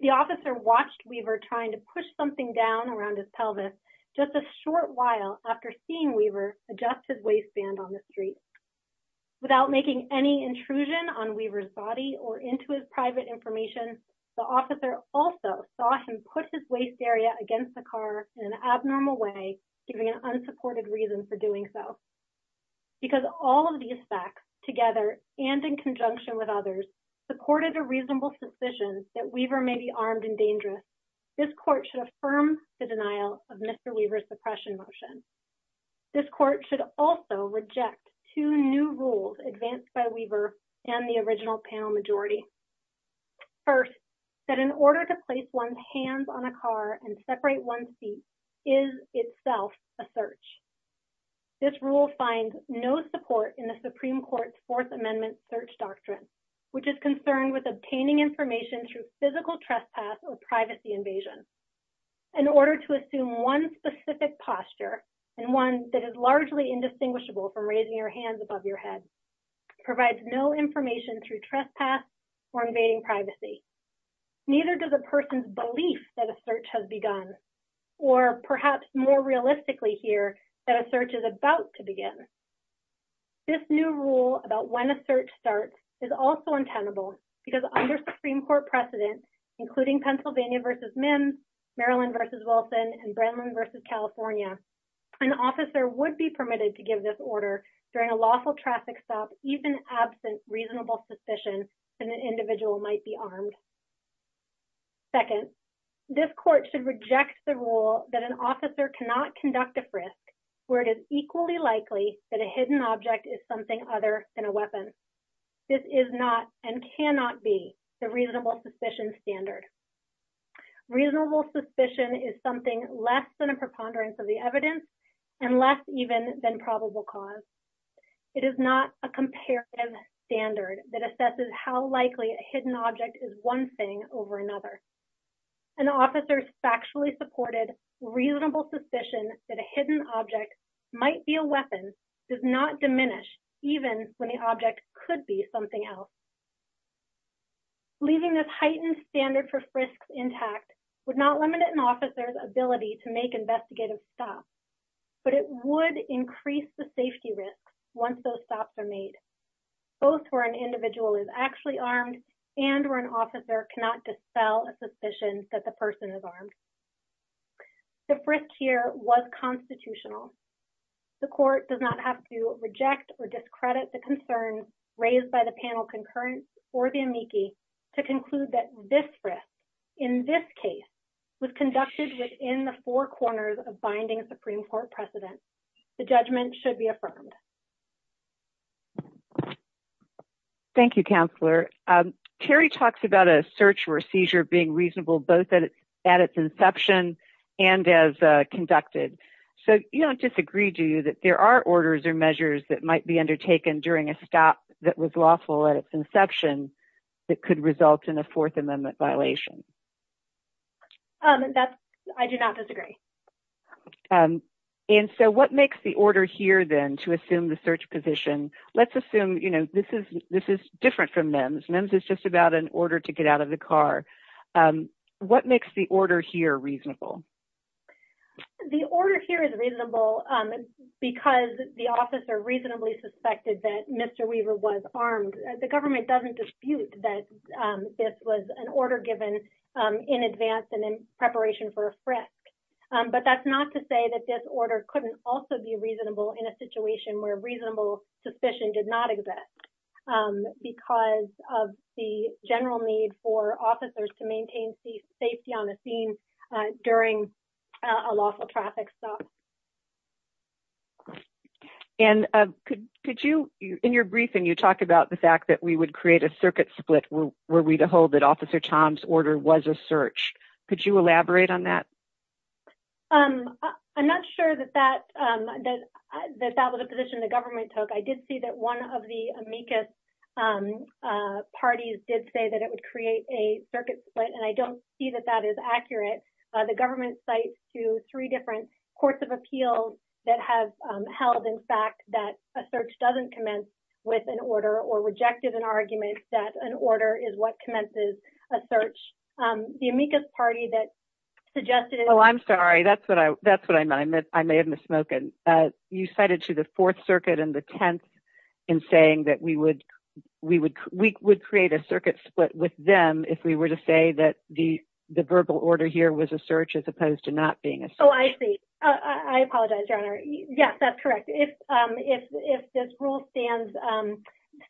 The officer watched Weaver trying to push something down around his pelvis just a short while after seeing Weaver adjusted waistband on the street without making any intrusion on Weaver's body or into his private information. The officer also saw him put his waist area against the car in an abnormal way, giving an unsupported reason for doing so. Because all of these facts together and in conjunction with others supported a reasonable suspicion that Weaver may be armed and dangerous. This court should affirm the denial of Mr. Weaver's suppression motion. This court should also reject two new rules advanced by Weaver and the original panel majority. First, that in order to place one's hands on a car and separate one's feet is itself a search. This rule finds no support in the Supreme Court's Fourth Amendment search doctrine, which is concerned with obtaining information through physical trespass or privacy invasion. In order to assume one specific posture and one that is largely indistinguishable from raising your hands above your head provides no information through trespass or invading privacy. Neither does a person's belief that a search has begun or perhaps more realistically here that a search is about to begin. This new rule about when a search starts is also untenable because under Supreme Court precedent, including Pennsylvania v. Mims, Maryland v. Wilson, and Brennan v. California, an officer would be permitted to give this order during a lawful traffic stop even absent reasonable suspicion that an individual might be armed. Second, this court should reject the rule that an officer cannot conduct a frisk where it is equally likely that a hidden object is something other than a weapon. This is not and cannot be the reasonable suspicion standard. Reasonable suspicion is something less than a preponderance of the evidence and less even than probable cause. It is not a comparative standard that assesses how likely a hidden object is one thing over another. An officer's factually supported reasonable suspicion that a hidden object might be a weapon does not diminish even when the object could be something else. Leaving this heightened standard for frisks intact would not limit an officer's ability to make investigative stops, but it would increase the safety risk once those actually armed and or an officer cannot dispel a suspicion that the person is armed. The frisk here was constitutional. The court does not have to reject or discredit the concern raised by the panel concurrence or the amici to conclude that this frisk, in this case, was conducted within the four corners of binding Supreme Court precedent. The judgment should be Kerry talks about a search for a seizure being reasonable both at its inception and as conducted. So you don't disagree, do you, that there are orders or measures that might be undertaken during a stop that was lawful at its inception that could result in a Fourth Amendment violation? I do not disagree. And so what makes the order here then to assume the search position? Let's assume this is different from MEMS. MEMS is just about an order to get out of the car. What makes the order here reasonable? The order here is reasonable because the officer reasonably suspected that Mr. Weaver was armed. The government doesn't dispute that this was an order given in advance and in preparation for a frisk. But that's not to say that this order couldn't also be reasonable in a situation where reasonable suspicion did not exist because of the general need for officers to maintain safety on the scene during a lawful traffic stop. And could you, in your briefing, you talk about the fact that we would create a circuit split were we to hold that Officer Tom's order was a search. Could you elaborate on that? I'm not sure that that was a position the government took. I did see that one of the amicus parties did say that it would create a circuit split, and I don't see that that is accurate. The government cites two, three different courts of appeals that have held, in fact, that a search doesn't commence with an order or rejected an argument that an order is what commences a search. The amicus party that suggested... Oh, I'm sorry. That's what I meant. I may have misspoken. You cited to the Fourth Circuit and the Tenth in saying that we would create a circuit split with them if we were to say that the verbal order here was a search as opposed to not being a search. Oh, I see. I apologize, Your Honor. Yes, that's correct. If this rule stands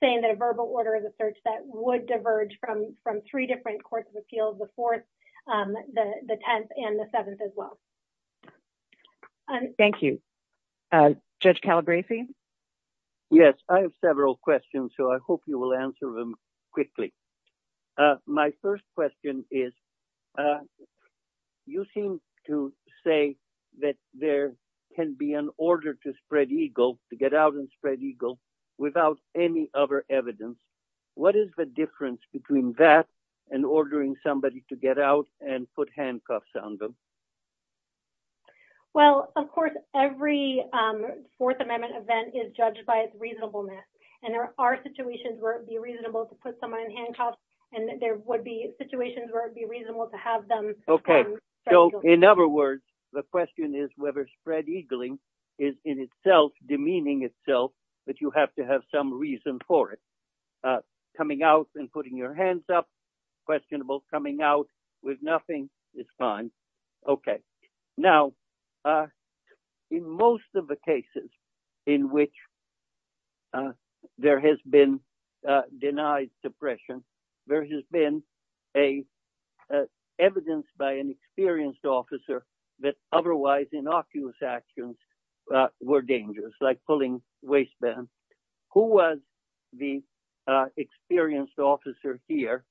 saying that verbal order is a search, that would diverge from three different courts of appeals, the Fourth, the Tenth, and the Seventh as well. Thank you. Judge Calabresi? Yes, I have several questions, so I hope you will answer them quickly. My first question is, you seem to say that there can be an order to spread eagle, to get out and spread eagle, without any other evidence. What is the difference between that and ordering somebody to get out and put handcuffs on them? Well, of course, every Fourth Amendment event is judged by its reasonableness, and there are situations where it would be reasonable to put someone in handcuffs, and there would be situations where it would be reasonable to have them... Okay, so in other words, the question is whether spread eagling is in itself demeaning itself, but you have to have some reason for it. Coming out and putting your hands up, questionable. Coming out with nothing is fine. Okay. Now, in most of the cases in which there has been denied suppression, there has been evidence by an experienced officer that otherwise innocuous actions were dangerous, like pulling waistbands. Who was the experienced officer here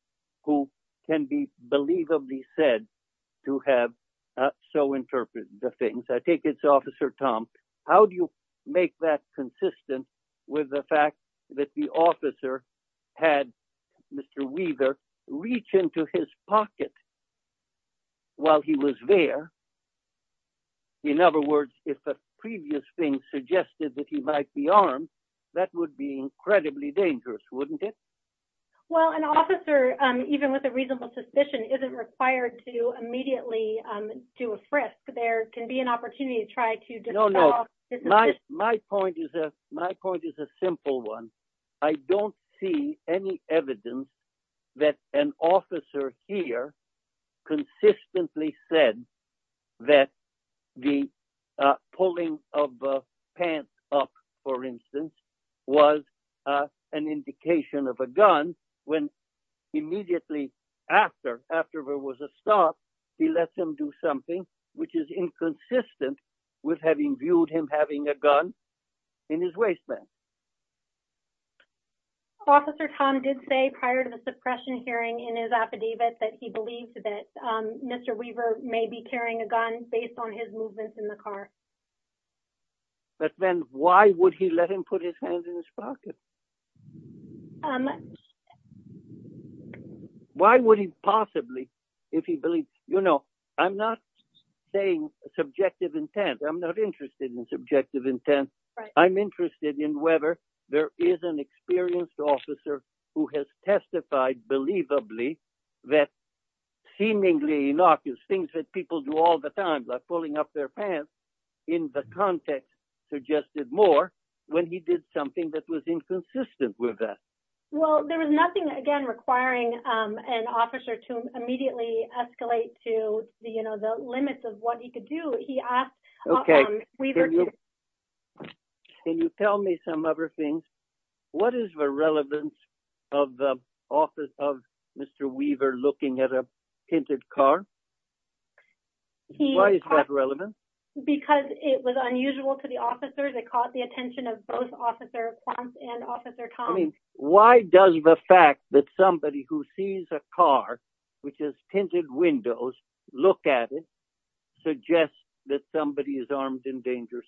who can be believably said to have so interpreted the things? I think it's Officer Tom. How do you make that consistent with the fact that the officer had Mr. Weaver reach into his head? In other words, if a previous thing suggested that he might be armed, that would be incredibly dangerous, wouldn't it? Well, an officer, even with a reasonable suspicion, isn't required to immediately do a frisk. There can be an opportunity to try to dissolve... No, no. My point is a simple one. I don't see any evidence that an officer here consistently said that the pulling of the pants up, for instance, was an indication of a gun when immediately after there was a stop, he let them do something which is inconsistent with having viewed him having a gun in his waistband. Officer Tom did say prior to the suppression hearing in his affidavit that he believes that Mr. Weaver may be carrying a gun based on his movements in the car. But then why would he let him put his hands in his pocket? Why would he possibly, if he believes... I'm not saying subjective intent. I'm not interested in subjective intent. I'm interested in whether there is an experienced officer who has testified believably that seemingly innocuous things that people do all the time, like pulling up their pants, in the context suggested more when he did something that was inconsistent with that. Well, there was nothing, again, requiring an officer to immediately escalate to the limits of what he could do. He asked... Can you tell me some other things? What is the relevance of the office of Mr. Weaver looking at a tinted car? Why is that relevant? Because it was unusual to the officers. It caught the attention of both Officer Ponce and Officer Tom. I mean, why does the fact that somebody who sees a car, which has tinted windows, look at it, that somebody is armed and dangerous?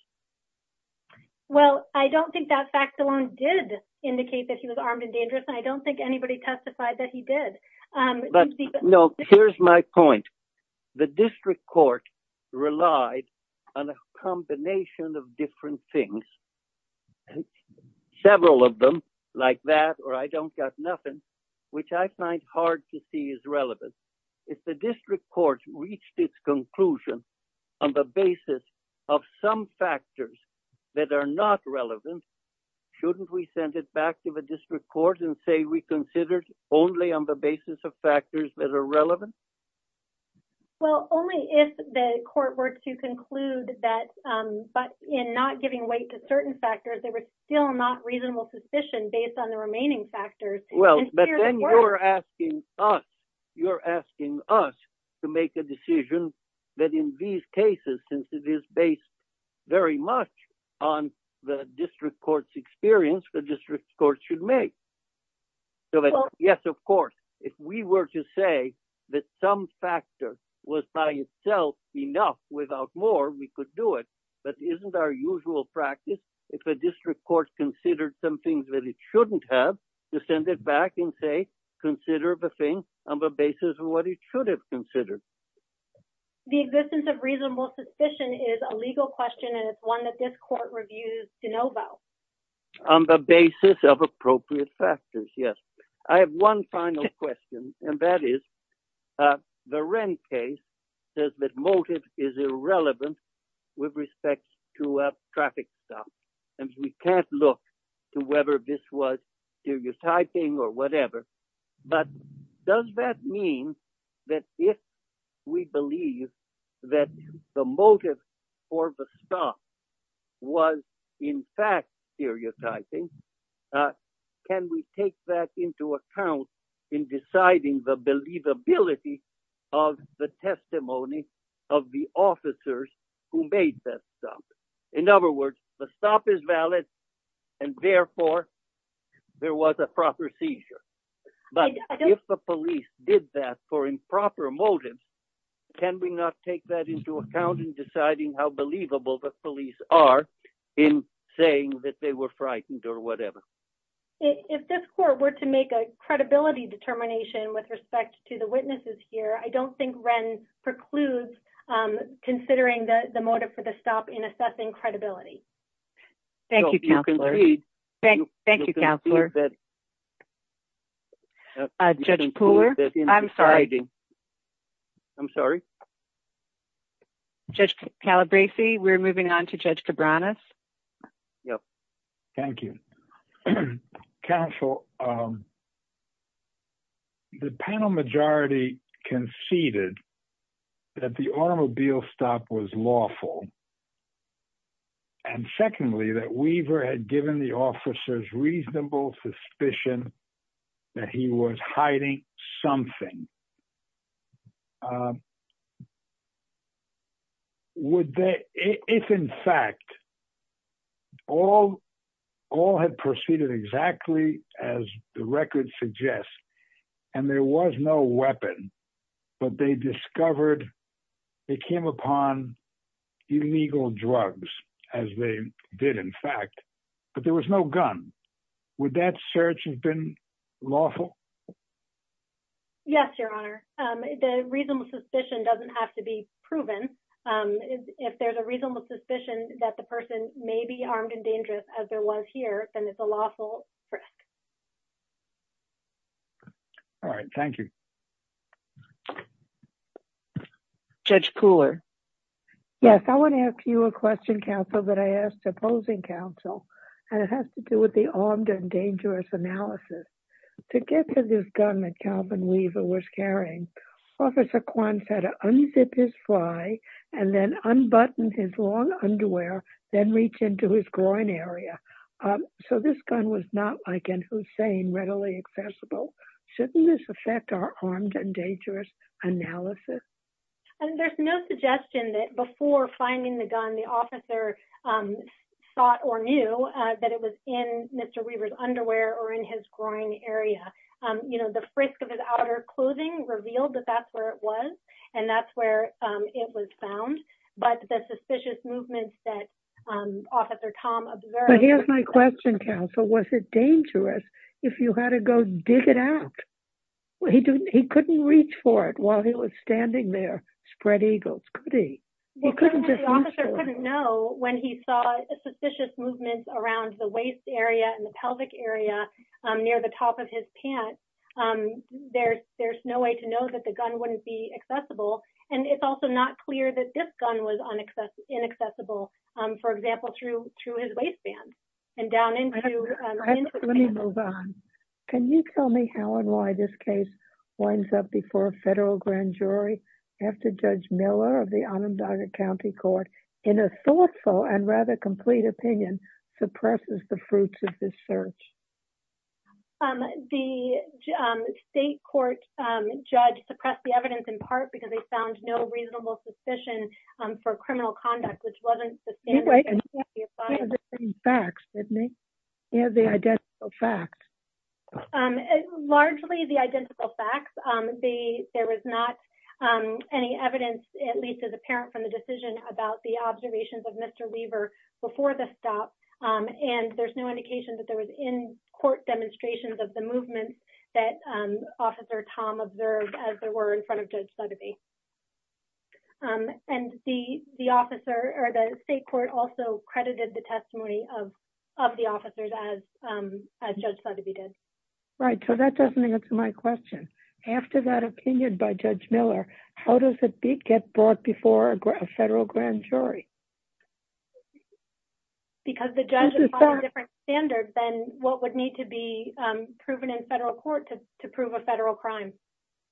Well, I don't think that fact alone did indicate that he was armed and dangerous. I don't think anybody testified that he did. No, here's my point. The district court relied on a combination of different things, several of them, like that, or I don't got nothing, which I find hard to see as relevant. If the district court reached its conclusion on the basis of some factors that are not relevant, shouldn't we send it back to the district court and say we considered only on the basis of factors that are relevant? Well, only if the court were to conclude that, but in not giving weight to certain factors, there was still not reasonable suspicion based on the remaining factors. Well, but then you're asking us, you're asking us to make a decision that in these cases, since it is based very much on the district court's experience, the district court should make. So yes, of course, if we were to say that some factor was by itself enough without more, we could do it. But isn't our usual practice if a district court considered something that it shouldn't have, to send it back and say, consider the thing on the basis of what it should have considered? The existence of reasonable suspicion is a legal question and it's one that this court reviews to know about. On the basis of appropriate factors, yes. I have one final question, and that is the Wren case says that motive is irrelevant with respect to a traffic stop. And we can't look to whether this was stereotyping or whatever, but does that mean that if we believe that the motive for the stop was in fact stereotyping, can we take that into account in deciding the believability of the testimony of the officers who made that stop? In other words, the stop is valid and therefore there was a proper seizure. But if the police did that for improper motives, can we not take that into account in deciding how believable the police are in saying that they were frightened or whatever? If this court were to make a credibility determination with respect to the witnesses here, I don't think Wren precludes considering the motive for the stop in assessing credibility. Thank you, Counselor. Judge Kalabresi, we're moving on to Judge Cabranes. Yes. Thank you. Counsel, the panel majority conceded that the automobile stop was lawful. And secondly, that Weaver had given the officers reasonable suspicion that he was hiding something. If, in fact, all had proceeded exactly as the record suggests and there was no weapon, but they discovered they came upon illegal drugs, as they did in fact, but there was no gun, would that search have been lawful? Yes, Your Honor. The reasonable suspicion doesn't have to be proven. If there's a reasonable suspicion that the person may be armed and dangerous as there was here, then it's a lawful risk. All right. Thank you. Judge Koehler. Yes. I want to ask you a question, Counsel, that I asked opposing Counsel, and it has to do with the armed and dangerous analysis. To get to this gun that Calvin Weaver was carrying, Officer Kwan had to unzip his fly and then unbutton his long underwear, then reach into his groin area. So this gun was not, like in Hussein, readily accessible. Shouldn't this affect our armed and dangerous analysis? There's no suggestion that before finding the gun, the officer thought or knew that it was in Mr. Weaver's underwear or in his groin area. You know, the frisk of his outer clothing revealed that that's where it was, and that's where it was found. But the suspicious movements that Officer Tom observed... Here's my question, Counsel. Was it dangerous if you had to go and dig it out? He couldn't reach for it while he was standing there, spread eagles. Could he? The officer couldn't know when he saw the suspicious movements around the waist area and the pelvic area near the top of his pants. There's no way to know that the gun wouldn't be accessible. And it's also not clear that this gun was inaccessible, for example, through his waistband and down into... Let me move on. Can you tell me how and why this case winds up before a federal grand jury after Judge Miller of the Onondaga County Court, in a thoughtful and rather complete opinion, suppresses the fruits of this search? The state court judge suppressed the evidence in part because they found no reasonable suspicion for criminal conduct, which wasn't... You have the same facts, didn't you? You have the identical facts. Largely the identical facts. There was not any evidence, at least as apparent from the decision, about the observations of Mr. Weaver before the stop. And there's no indication that there was in-court demonstrations of the movements that Officer Tom observed as there were in front of Judge Sotheby. And the state court also credited the testimony of the officers as Judge Sotheby did. Right. So that doesn't answer my question. After that opinion by Judge Miller, how does it get brought before a federal grand jury? Because the judge is on a different standard than what would need to be proven in federal court to prove a federal crime.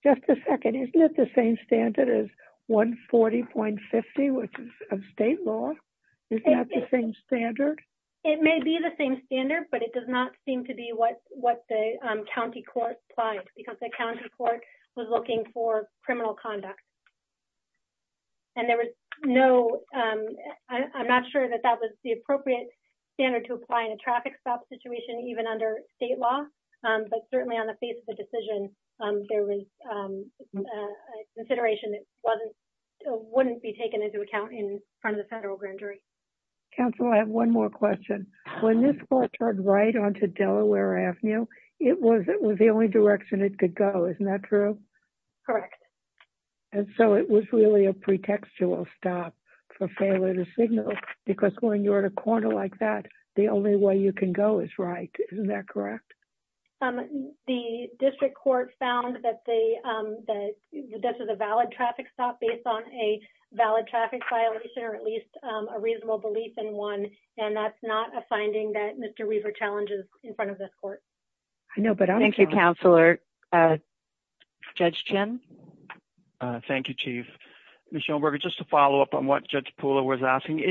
Just a second. Isn't it the same standard as 140.50, which is of state law? Isn't that the same standard? It may be the same standard, but it does not seem to be what the county court applied, because the county court was looking for criminal conduct. And there was no I'm not sure that that was the appropriate standard to apply in a traffic stop situation, even under state law. But certainly on the face of the decision, there was a consideration that wouldn't be taken into account in front of the federal grand jury. Counsel, I have one more question. When this car turned right onto Delaware Avenue, it was the only direction it could go. Isn't that true? Correct. And so it was really a pretextual stop for failure to signal, because when you're in a corner like that, the only way you can go is right. Isn't that correct? The district court found that this is a valid traffic stop based on a valid traffic violation, or at least a reasonable belief in one. And that's not a finding that Mr. Weaver challenges in front of this court. Thank you, Counselor. Judge Chin. Thank you, Chief. Ms. Schoenberger, just to follow up on what Judge Pula was asking,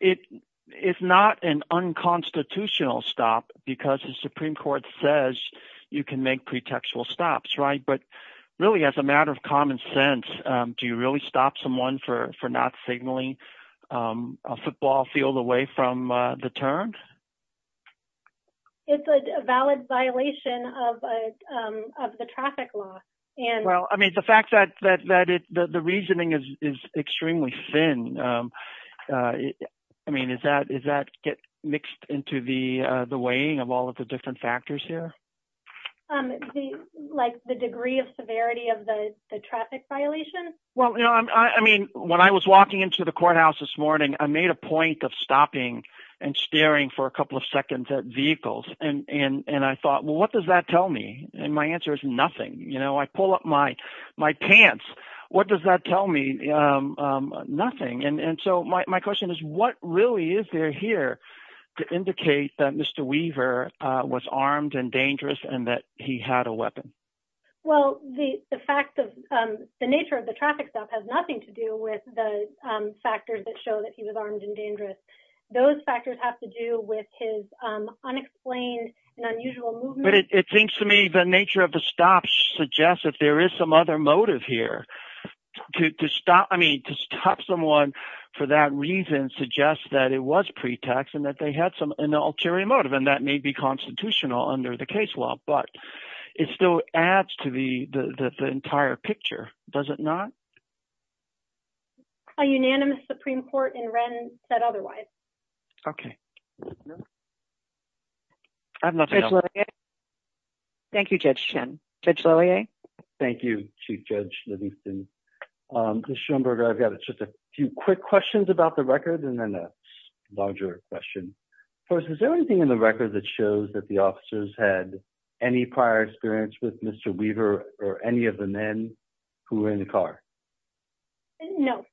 it's not an unconstitutional stop, because the Supreme Court says you can make pretextual stops, right? But really, as a matter of common sense, do you really stop someone for not signaling a football field away from the turn? It's a valid violation of the traffic law. Well, I mean, the fact that the reasoning is extremely thin, I mean, does that get mixed into the weighing of all of the different factors here? Like the degree of severity of the traffic violation? Well, you know, I mean, when I was walking into the courthouse this morning, I made a point of staring for a couple of seconds at vehicles. And I thought, well, what does that tell me? And my answer is nothing. You know, I pull up my pants. What does that tell me? Nothing. And so my question is, what really is there here to indicate that Mr. Weaver was armed and dangerous and that he had a weapon? Well, the nature of the traffic stop has nothing to do with the factors that show that he was armed and dangerous. Those factors have to do with his unexplained and unusual movement. But it seems to me the nature of the stop suggests that there is some other motive here to stop. I mean, to stop someone for that reason suggests that it was pretext and that they had some ulterior motive. And that may be constitutional under the case law, but it still adds to the entire picture, does it not? A unanimous Supreme Court in Wren said otherwise. Okay. Thank you, Judge Chen. Judge Lillie? Thank you, Chief Judge Livingston. Judge Schoenberger, I've got just a few quick questions about the record and then a larger question. First, is there anything in the record that shows that the officers had any prior experience with Mr. Weaver or any of the men who were in the car? No.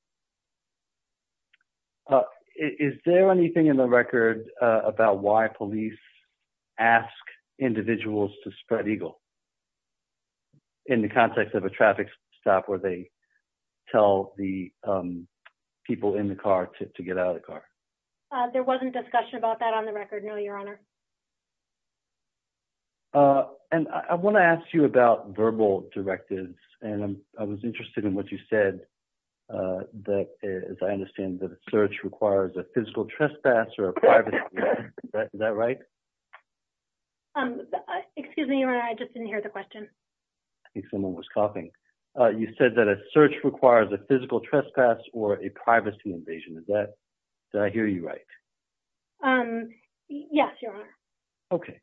Is there anything in the record about why police ask individuals to spread eagles in the context of a traffic stop where they tell the people in the car to get out of the car? There wasn't discussion about that on the record, no, Your Honor. And I want to ask you about verbal directives. And I was interested in what you said that, as I understand, that a search requires a physical trespass or a privacy invasion. Is that right? Excuse me, Your Honor, I just didn't hear the question. I think someone was coughing. You said that a search requires a physical trespass or a privacy invasion. Is that...did I hear you right? Yes, Your Honor. Okay.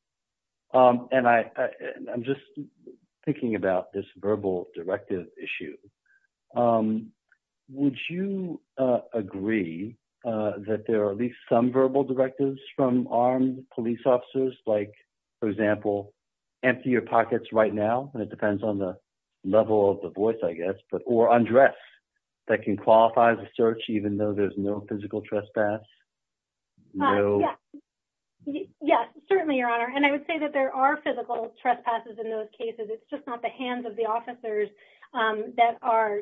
And I'm just thinking about this verbal directive issue. Would you agree that there are at least some verbal directives from armed police officers, like, for example, empty your pockets right now, and it depends on the level of the voice, I guess, or undress, that can qualify the search, even though there's no physical trespass? No. Yes, certainly, Your Honor. And I would say that there are physical trespasses in those cases. It's just not the hands of the officers that are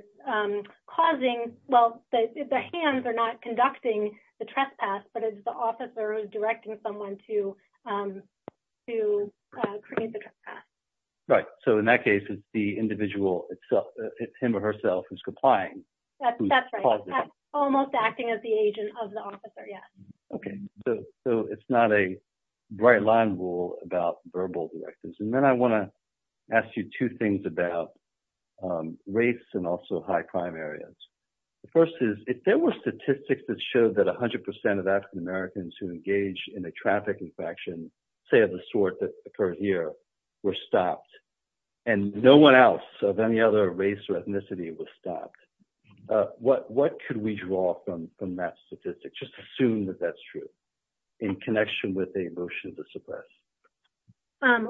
causing...well, the hands are not conducting the trespass, but it's the officer directing someone to create the trespass. Right. So in that case, it's the individual itself. It's him or herself who's complying. That's right. Almost acting as the agent of the officer, yes. Okay. So it's not a bright line rule about verbal directives. And then I want to ask you two things about race and also high crime areas. The first is, if there were statistics that showed that 100% of African Americans who engaged in a trafficking faction, say of the sort that occurred here, were stopped, and no one else of any other race or ethnicity was stopped, what could we draw from that statistic? Just assume that that's true, in connection with a motion to suppress.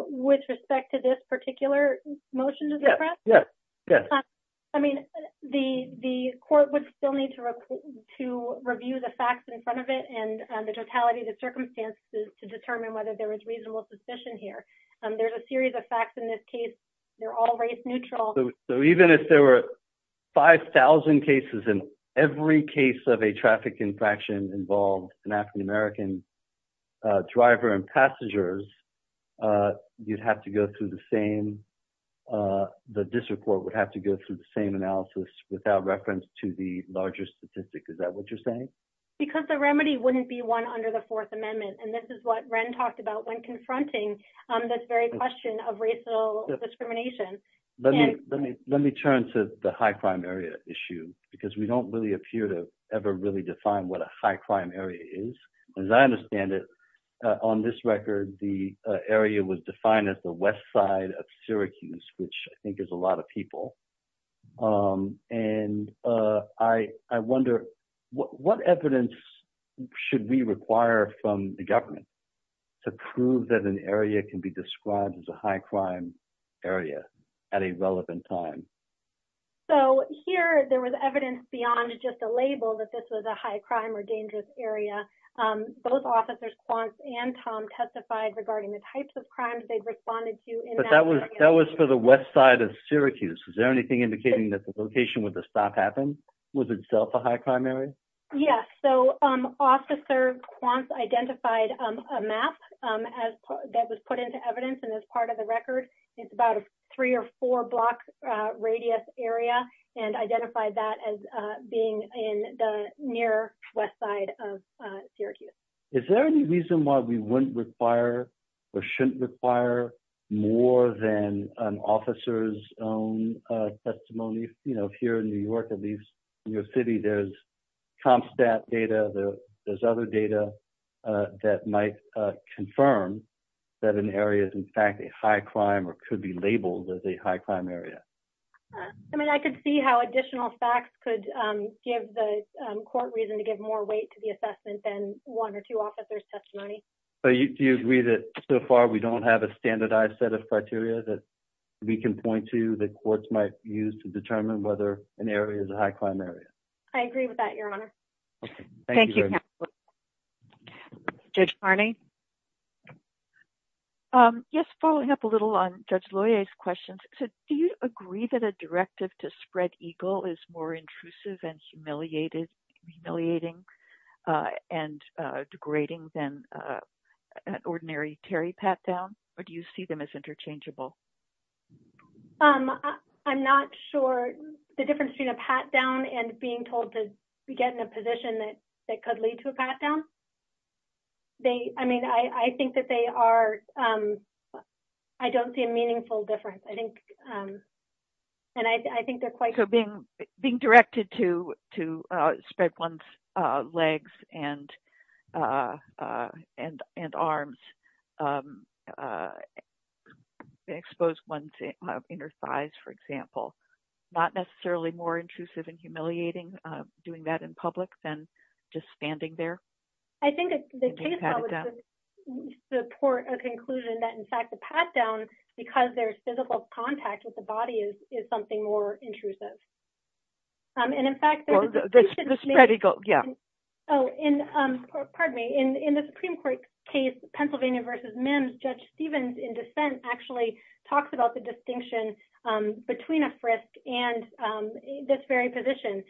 With respect to this particular motion to suppress? Yes. Yes. I mean, the court would still need to review the facts in front of it and the totality of the circumstances to determine whether there was reasonable suspicion here. There's a series of facts in this case. They're all race neutral. So even if there were 5,000 cases in every case of a trafficking faction involved an African American driver and passengers, you'd have to go through the same... The district court would have to go through the same analysis without reference to the larger statistic. Is that what you're saying? Because the remedy wouldn't be one under the Fourth Amendment. And this is what Wren talked about when confronting this very question of racial discrimination. Let me turn to the high crime area issue, because we don't really appear to ever really define what a high crime area is. As I understand it, on this record, the area was defined as the west side of Syracuse, which I think is a lot of described as a high crime area at a relevant time. So here, there was evidence beyond just a label that this was a high crime or dangerous area. Both Officers Quance and Tom testified regarding the types of crimes they'd responded to in that area. But that was for the west side of Syracuse. Is there anything indicating that the location where the stop happened was itself a high crime area? Yes. So Officer Quance identified a map that was put into evidence and is part of the record. It's about a three or four block radius area, and identified that as being in the near west side of Syracuse. Is there any reason why we wouldn't require or shouldn't require more than an area? Because in New York, at least in New York City, there's comp stat data, there's other data that might confirm that an area is in fact a high crime or could be labeled as a high crime area. I mean, I could see how additional facts could give the court reason to give more weight to the assessment than one or two officers' testimony. So do you agree that so far we don't have a standardized set of criteria that we can point to that courts might use to determine whether an area is a high crime area? I agree with that, Your Honor. Thank you. Judge Harney? Yes, following up a little on Judge Loya's questions. Do you agree that a directive to spread EGLE is more intrusive and humiliating and degrading than an ordinary Terry pat-down? Or do you see them as interchangeable? I'm not sure the difference between a pat-down and being told to get in a position that could lead to a pat-down. They, I mean, I think that they are, I don't see a meaningful difference. I think, and I think they're quite... So being directed to spread one's legs and arms, expose one's inner thighs, for example, not necessarily more intrusive and humiliating doing that in public than just standing there? I think the case would support a conclusion that, in fact, the pat-down, because there's physical contact with the body, is something more intrusive. And in fact... The spread EGLE, yeah. Oh, pardon me. In the Supreme Court case, Pennsylvania v. Mims, Judge Stevens, in dissent, actually talks about the distinction between a frisk and this very position,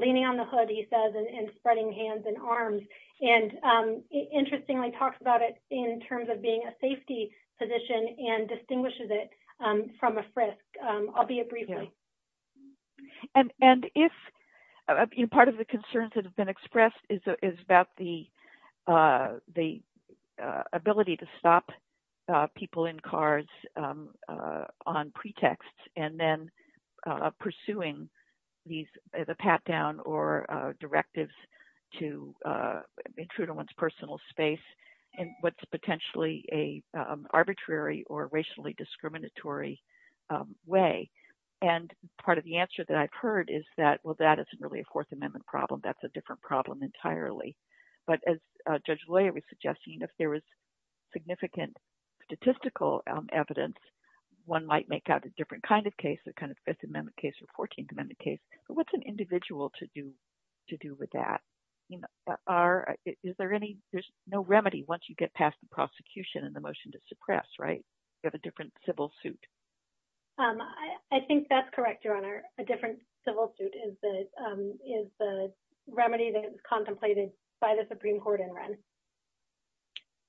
leaning on the hood, he says, and spreading hands and arms. And interestingly talks about it in terms of being a safety position and distinguishes it from a frisk. I'll be brief. And if part of the concerns that have been expressed is about the ability to stop people in cars on pretext, and then pursuing these as a pat-down or directives to intrude on one's personal space in what's potentially an arbitrary or racially discriminatory way. And part of the answer that I've heard is that, well, that isn't really a Fourth Amendment problem. That's a different problem entirely. But as Judge Loyer was suggesting, if there was significant statistical evidence, one might make out a different kind of case, Fifth Amendment case or 14th Amendment case. But what's an individual to do with that? Is there any... There's no remedy once you get past the prosecution and the motion to suppress, right? You have a different civil suit. I think that's correct, Your Honor. A different civil suit is the remedy that is contemplated by the Supreme Court in rent.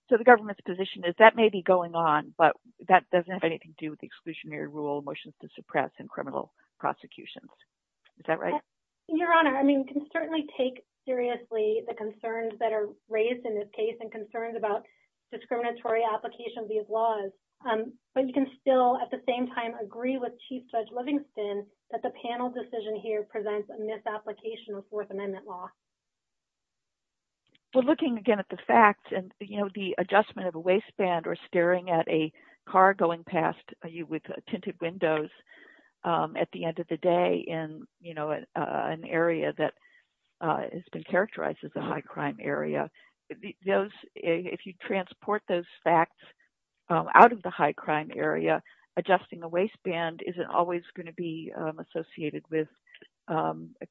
So the government's position is that may be going on, but that doesn't have anything to do with the exclusionary rule motions to suppress in criminal prosecution. Is that right? Your Honor, I mean, you can certainly take seriously the concerns that are raised in this case and concerns about discriminatory applications of these laws. But you can still at the same time agree with Chief Judge Livingston that the panel decision here presents a misapplication of Fourth Amendment law. Well, looking again at the fact and the adjustment of a waistband or staring at a car going past you with tinted windows at the end of the day in an area that has been characterized as a high crime area, if you transport those facts out of the high crime area, adjusting a waistband isn't always going to be associated with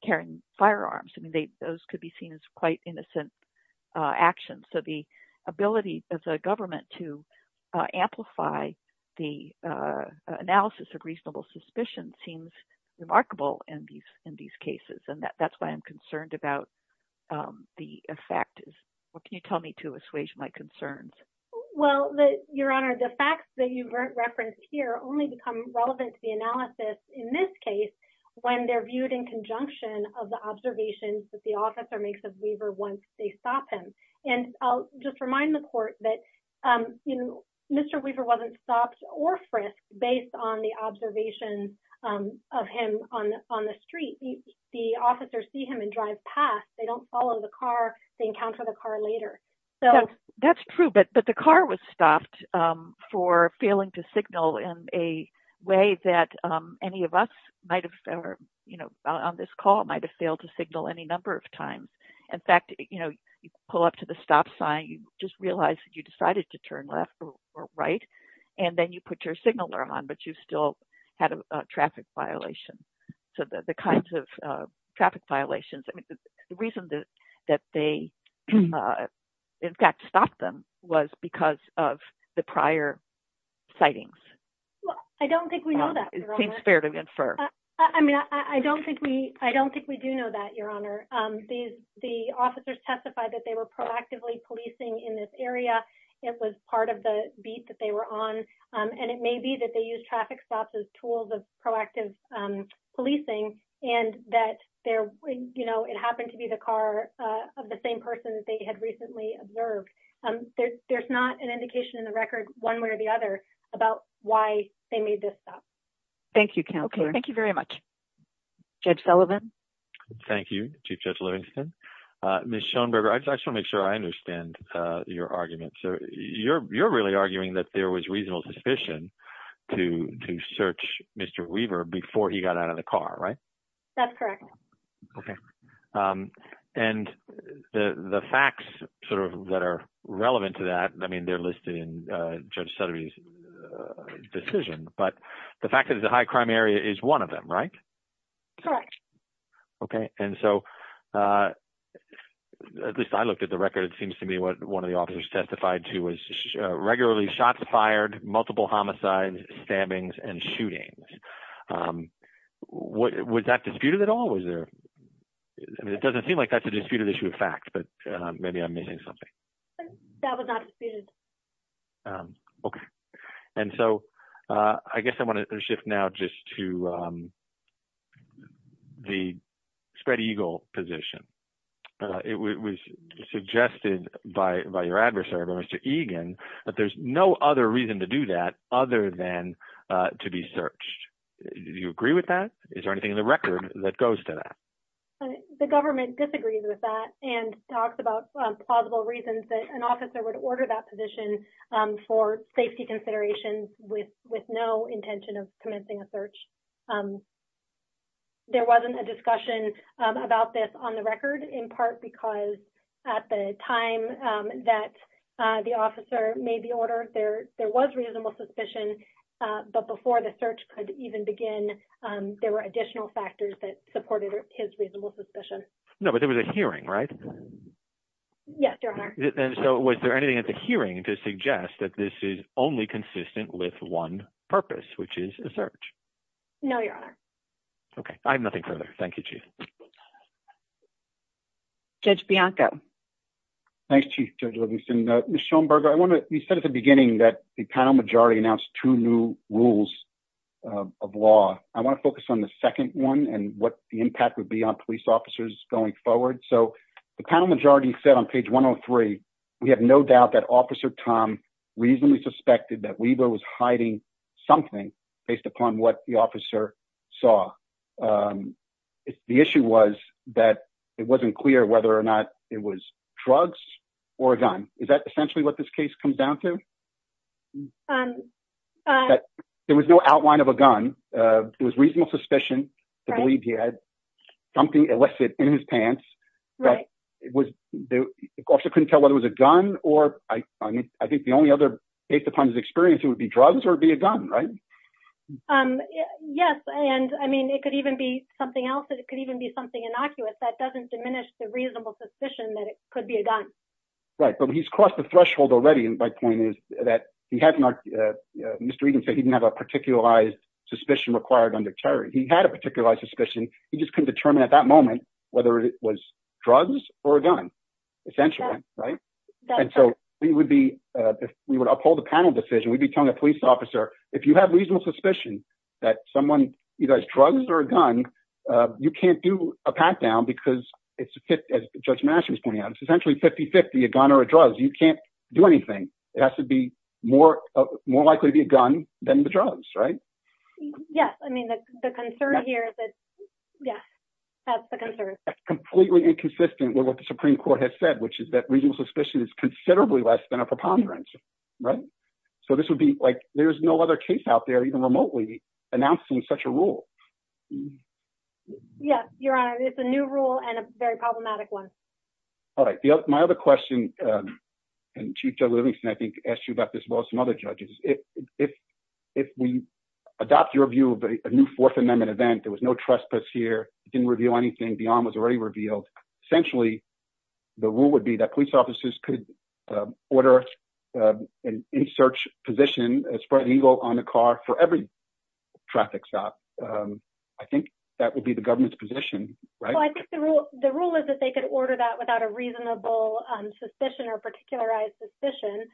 carrying firearms. Those could be seen as quite innocent actions. So the ability of the government to amplify the analysis of reasonable suspicion seems remarkable in these cases. And that's why I'm concerned about the effect. What can you tell me to assuage my concerns? Well, Your Honor, the facts that you referenced here only become relevant to the analysis in this case when they're viewed in conjunction of the observations that the officer makes of Weaver once they stop him. And I'll just remind the court that Mr. Weaver wasn't stopped or frisked based on the observations of him on the street. The officers see him and drive past. They don't follow the car. They encounter the car later. That's true, but the car was stopped for failing to signal in a way that any of us on this call might have failed to signal any number of times. In fact, you pull up to the stop sign. You just realize that you decided to turn left or right. And then you put your signal on, but you still had a traffic violation. So the kinds of traffic violations, the reason that they, in fact, stopped them was because of the prior sightings. Well, I don't think we know that. I mean, I don't think we do know that, Your Honor. The officers testified that they were proactively policing in this area. It was part of the beat that they were on. And it may be that they use traffic stops as tools of proactive policing and that it happened to be the car of the same person that they had recently observed. There's not an why they made this stop. Thank you, Counselor. Thank you very much. Judge Sullivan. Thank you, Chief Judge Livingston. Ms. Schoenberger, I just want to make sure I understand your argument. You're really arguing that there was reasonable suspicion to search Mr. Weaver before he got out of the car, right? That's correct. Okay. And the facts sort of that are relevant to that, I mean, they're listed in Judge Sutter's decision, but the fact that it's a high crime area is one of them, right? Correct. Okay. And so at least I looked at the record, it seems to be what one of the officers testified to was regularly shots fired, multiple homicides, stabbings and shootings. Was that disputed at all? It doesn't seem like that's a disputed issue of That was not disputed. Okay. And so I guess I want to shift now just to the spread eagle position. It was suggested by your adversary, Mr. Egan, that there's no other reason to do that other than to be searched. Do you agree with that? Is there anything in the record that goes to that? The government disagrees with that and talks about plausible reasons that an officer would order that position for safety considerations with no intention of commencing a search. There wasn't a discussion about this on the record in part because at the time that the officer made the order, there was reasonable suspicion, but before the search could even begin, there were additional factors that supported his reasonable suspicion. No, but there was a hearing, right? Yes, there are. So was there anything at the hearing to suggest that this is only consistent with one purpose, which is the search? No, your honor. Okay. I have nothing further. Thank you, Chief. Judge Bianco. Thanks, Chief Judge Livingston. Ms. Schoenberger, you said at the beginning that the county majority announced two new rules of law. I want to focus on the second one and what the impact would be on police officers going forward. So the county majority said on page 103, we have no doubt that Officer Tom reasonably suspected that Weaver was hiding something based upon what the officer saw. The issue was that it wasn't clear whether or not it was drugs or a gun. Is that essentially what this case comes down to? There was no outline of a gun. It was reasonable suspicion to believe he had something illicit in his pants, but the officer couldn't tell whether it was a gun or, I think the only other based upon his experience, it would be drugs or it would be a gun, right? Yes, and I mean, it could even be something else. It could even be something innocuous. That doesn't diminish the reasonable suspicion that it could be a gun. Right, but he's crossed the threshold already. My point is that Mr. Egan said he didn't have a particularized suspicion required under Terry. He had a particularized suspicion. He just couldn't determine at that moment whether it was drugs or a gun, essentially, right? And so we would uphold the panel decision. We'd be telling a police officer, if you have reasonable suspicion that someone either has drugs or a gun, you can't do a gun or a drug. You can't do anything. It has to be more likely to be a gun than the drugs, right? Yes, I mean, the concern here is that, yeah, that's the concern. That's completely inconsistent with what the Supreme Court has said, which is that reasonable suspicion is considerably less than a preponderance, right? So this would be like, there's no other case out there even remotely announcing such a rule. Yes, Your Honor, it's a new rule and a very problematic one. All right. My other question, and Chief Judge Livingston, I think, asked you about this as well as some other judges. If we adopt your view of a new Fourth Amendment event, there was no trespass here, didn't reveal anything, the arm was already revealed. Essentially, the rule would be that police officers could order an in-search position, a Spartan Eagle on the car for every traffic stop. I think that would be the government's position, right? The rule is that they could order that without a reasonable suspicion or particularized suspicion.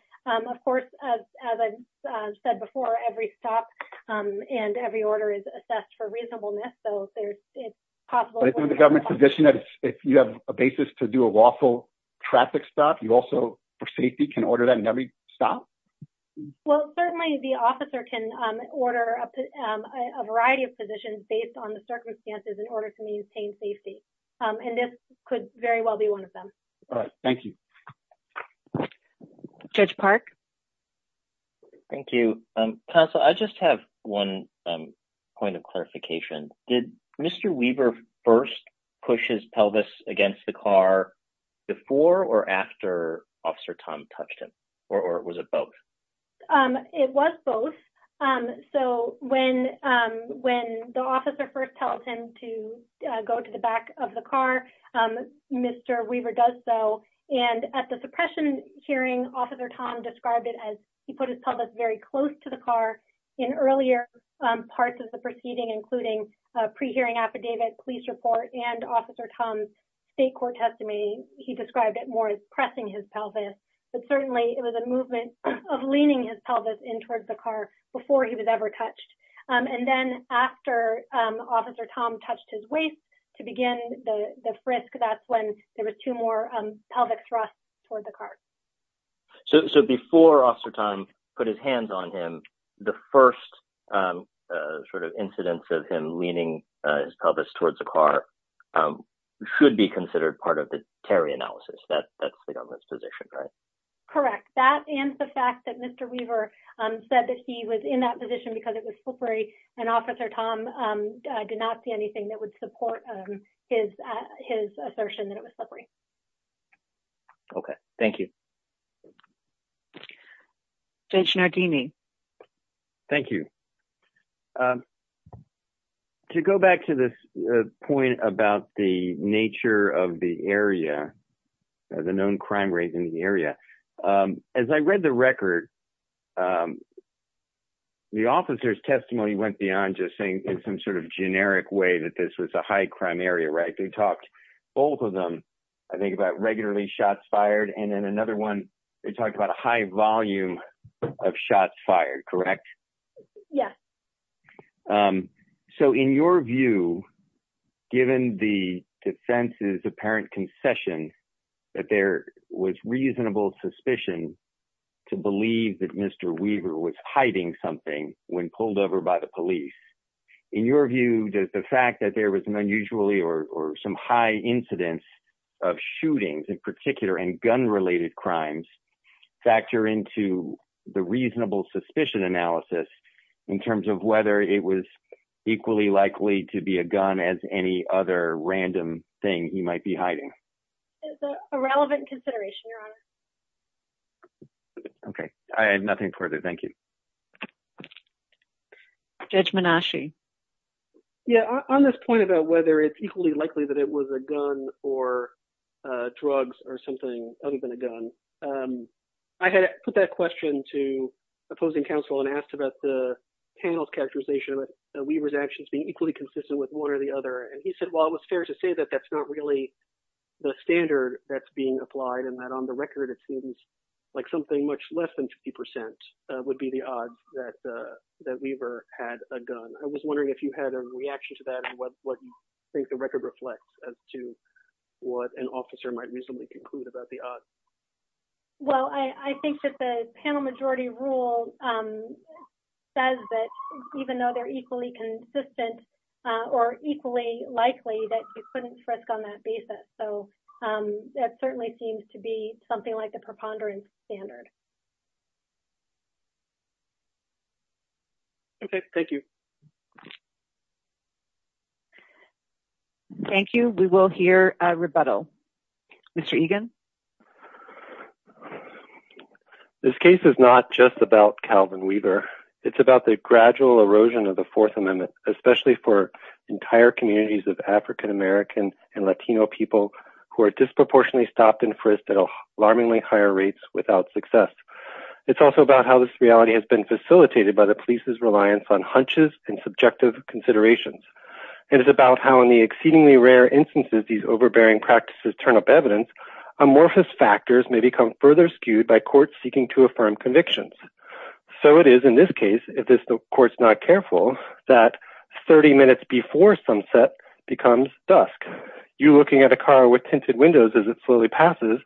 Of course, as I said before, every stop and every order is assessed for reasonableness. The government's position is, if you have a basis to do a lawful traffic stop, you also, for safety, can order that in every stop? Well, certainly the officer can order a variety of positions based on the circumstances in order to maintain safety. This could very well be one of them. All right. Thank you. Judge Park? Thank you. Tonsa, I just have one point of clarification. Did Mr. Weaver first push his pelvis against the car before or after Officer Tom touched him, or was it both? It was both. When the officer first told him to go to the back of the car, Mr. Weaver does so. At the suppression hearing, Officer Tom described it as he put his pelvis very close to the car. In earlier parts of the proceeding, including a pre-hearing affidavit, police report, and Officer Tom's state court testimony, he described it more as pressing his pelvis. Certainly, it was a movement of leaning his pelvis in towards the car before he was ever touched. Then, after Officer Tom touched his waist to begin the frisk, that's when there was two more pelvic thrusts towards the car. Before Officer Tom put his hands on him, the first incidence of him leaning his pelvis towards the car should be considered part of the carry analysis. That's the government's position, right? Correct. That and the fact that Mr. Weaver said that he was in that position because it was slippery and Officer Tom did not see anything that would support his assertion that it was slippery. Okay. Thank you. Judge Nardini? Thank you. To go back to this point about the nature of the area, the known crime rate in the area, as I read the record, the officer's testimony went beyond just saying in some sort of generic way that this was a high crime area, right? They talked, both of them, I think, about regularly shots fired. Then another one, they talked about a high volume of shots fired, correct? Yes. In your view, given the defense's apparent concession that there was reasonable suspicion to believe that Mr. Weaver was hiding something when pulled over by the police, in your view, does the fact that there was an unusually or some high incidence of shootings, in particular, and gun-related crimes factor into the reasonable suspicion analysis in terms of whether it was equally likely to be a gun as any other random thing he might be hiding? It's a relevant consideration, Your Honor. Okay. I add nothing further. Thank you. Judge Menasci? Yeah. On this point about whether it's equally likely that it was a gun or drugs or something other than a gun, I had put that question to opposing counsel and asked about the panel's characterization of Weaver's actions being equally consistent with one or the other. He said, well, it was fair to say that that's not really the standard that's being applied and that on the record, it seems like something much less than 50% would be the odds that Weaver had a gun. I was wondering if you had a reaction to that and what you think the record reflects as to what an officer might reasonably conclude about the odds. Well, I think that the panel majority rule says that even though they're equally consistent or equally likely, that you couldn't risk on that basis. So, that certainly seems to be something like a preponderance standard. Okay. Thank you. We will hear a rebuttal. Mr. Egan? This case is not just about Calvin Weaver. It's about the gradual erosion of the Fourth Amendment, especially for entire communities of African-American and Latino people who are disproportionately stopped and frisked at alarmingly higher rates without success. It's also about how this reality has been facilitated by the police's reliance on and subjective considerations. It is about how in the exceedingly rare instances these overbearing practices turn up evidence, amorphous factors may become further skewed by courts seeking to affirm convictions. So, it is in this case, if this court's not careful, that 30 minutes before sunset becomes dusk. You looking at a car with tinted windows as it slowly passes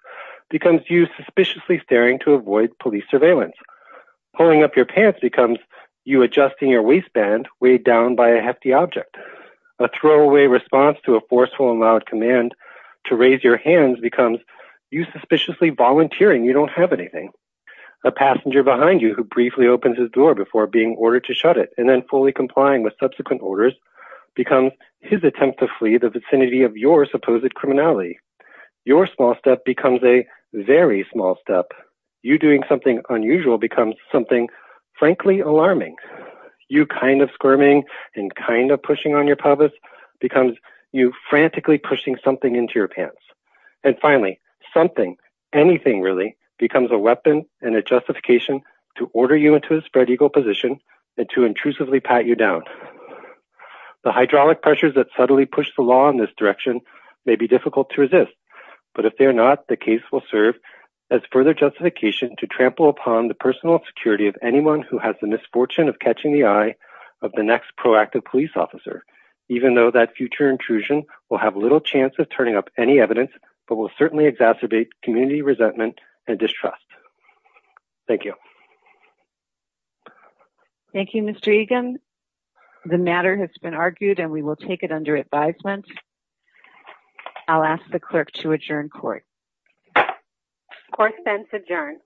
becomes you suspiciously staring to avoid police surveillance. Pulling up your pants becomes you adjusting your waistband weighed down by a hefty object. A throwaway response to a forceful and loud command to raise your hands becomes you suspiciously volunteering you don't have anything. A passenger behind you who briefly opens his door before being ordered to shut it and then fully complying with subsequent orders becomes his attempt to flee the vicinity of your supposed criminality. Your small step becomes a very small step. You doing something unusual becomes something frankly alarming. You kind of squirming and kind of pushing on your pelvis becomes you frantically pushing something into your pants. And finally, something, anything really, becomes a weapon and a justification to order you into a spread-eagle position and to intrusively pat you down. The hydraulic pressures that subtly push the law in this direction may be difficult to resist, but if they are not, the case will serve as further justification to trample upon the personal security of anyone who has the misfortune of catching the eye of the next proactive police officer, even though that future intrusion will have little chance of turning up any evidence, but will certainly exacerbate community resentment and distrust. Thank you. Thank you, Mr. Egan. The matter has been argued and we will take it under advisement. I'll ask the clerk to adjourn court. Court is adjourned.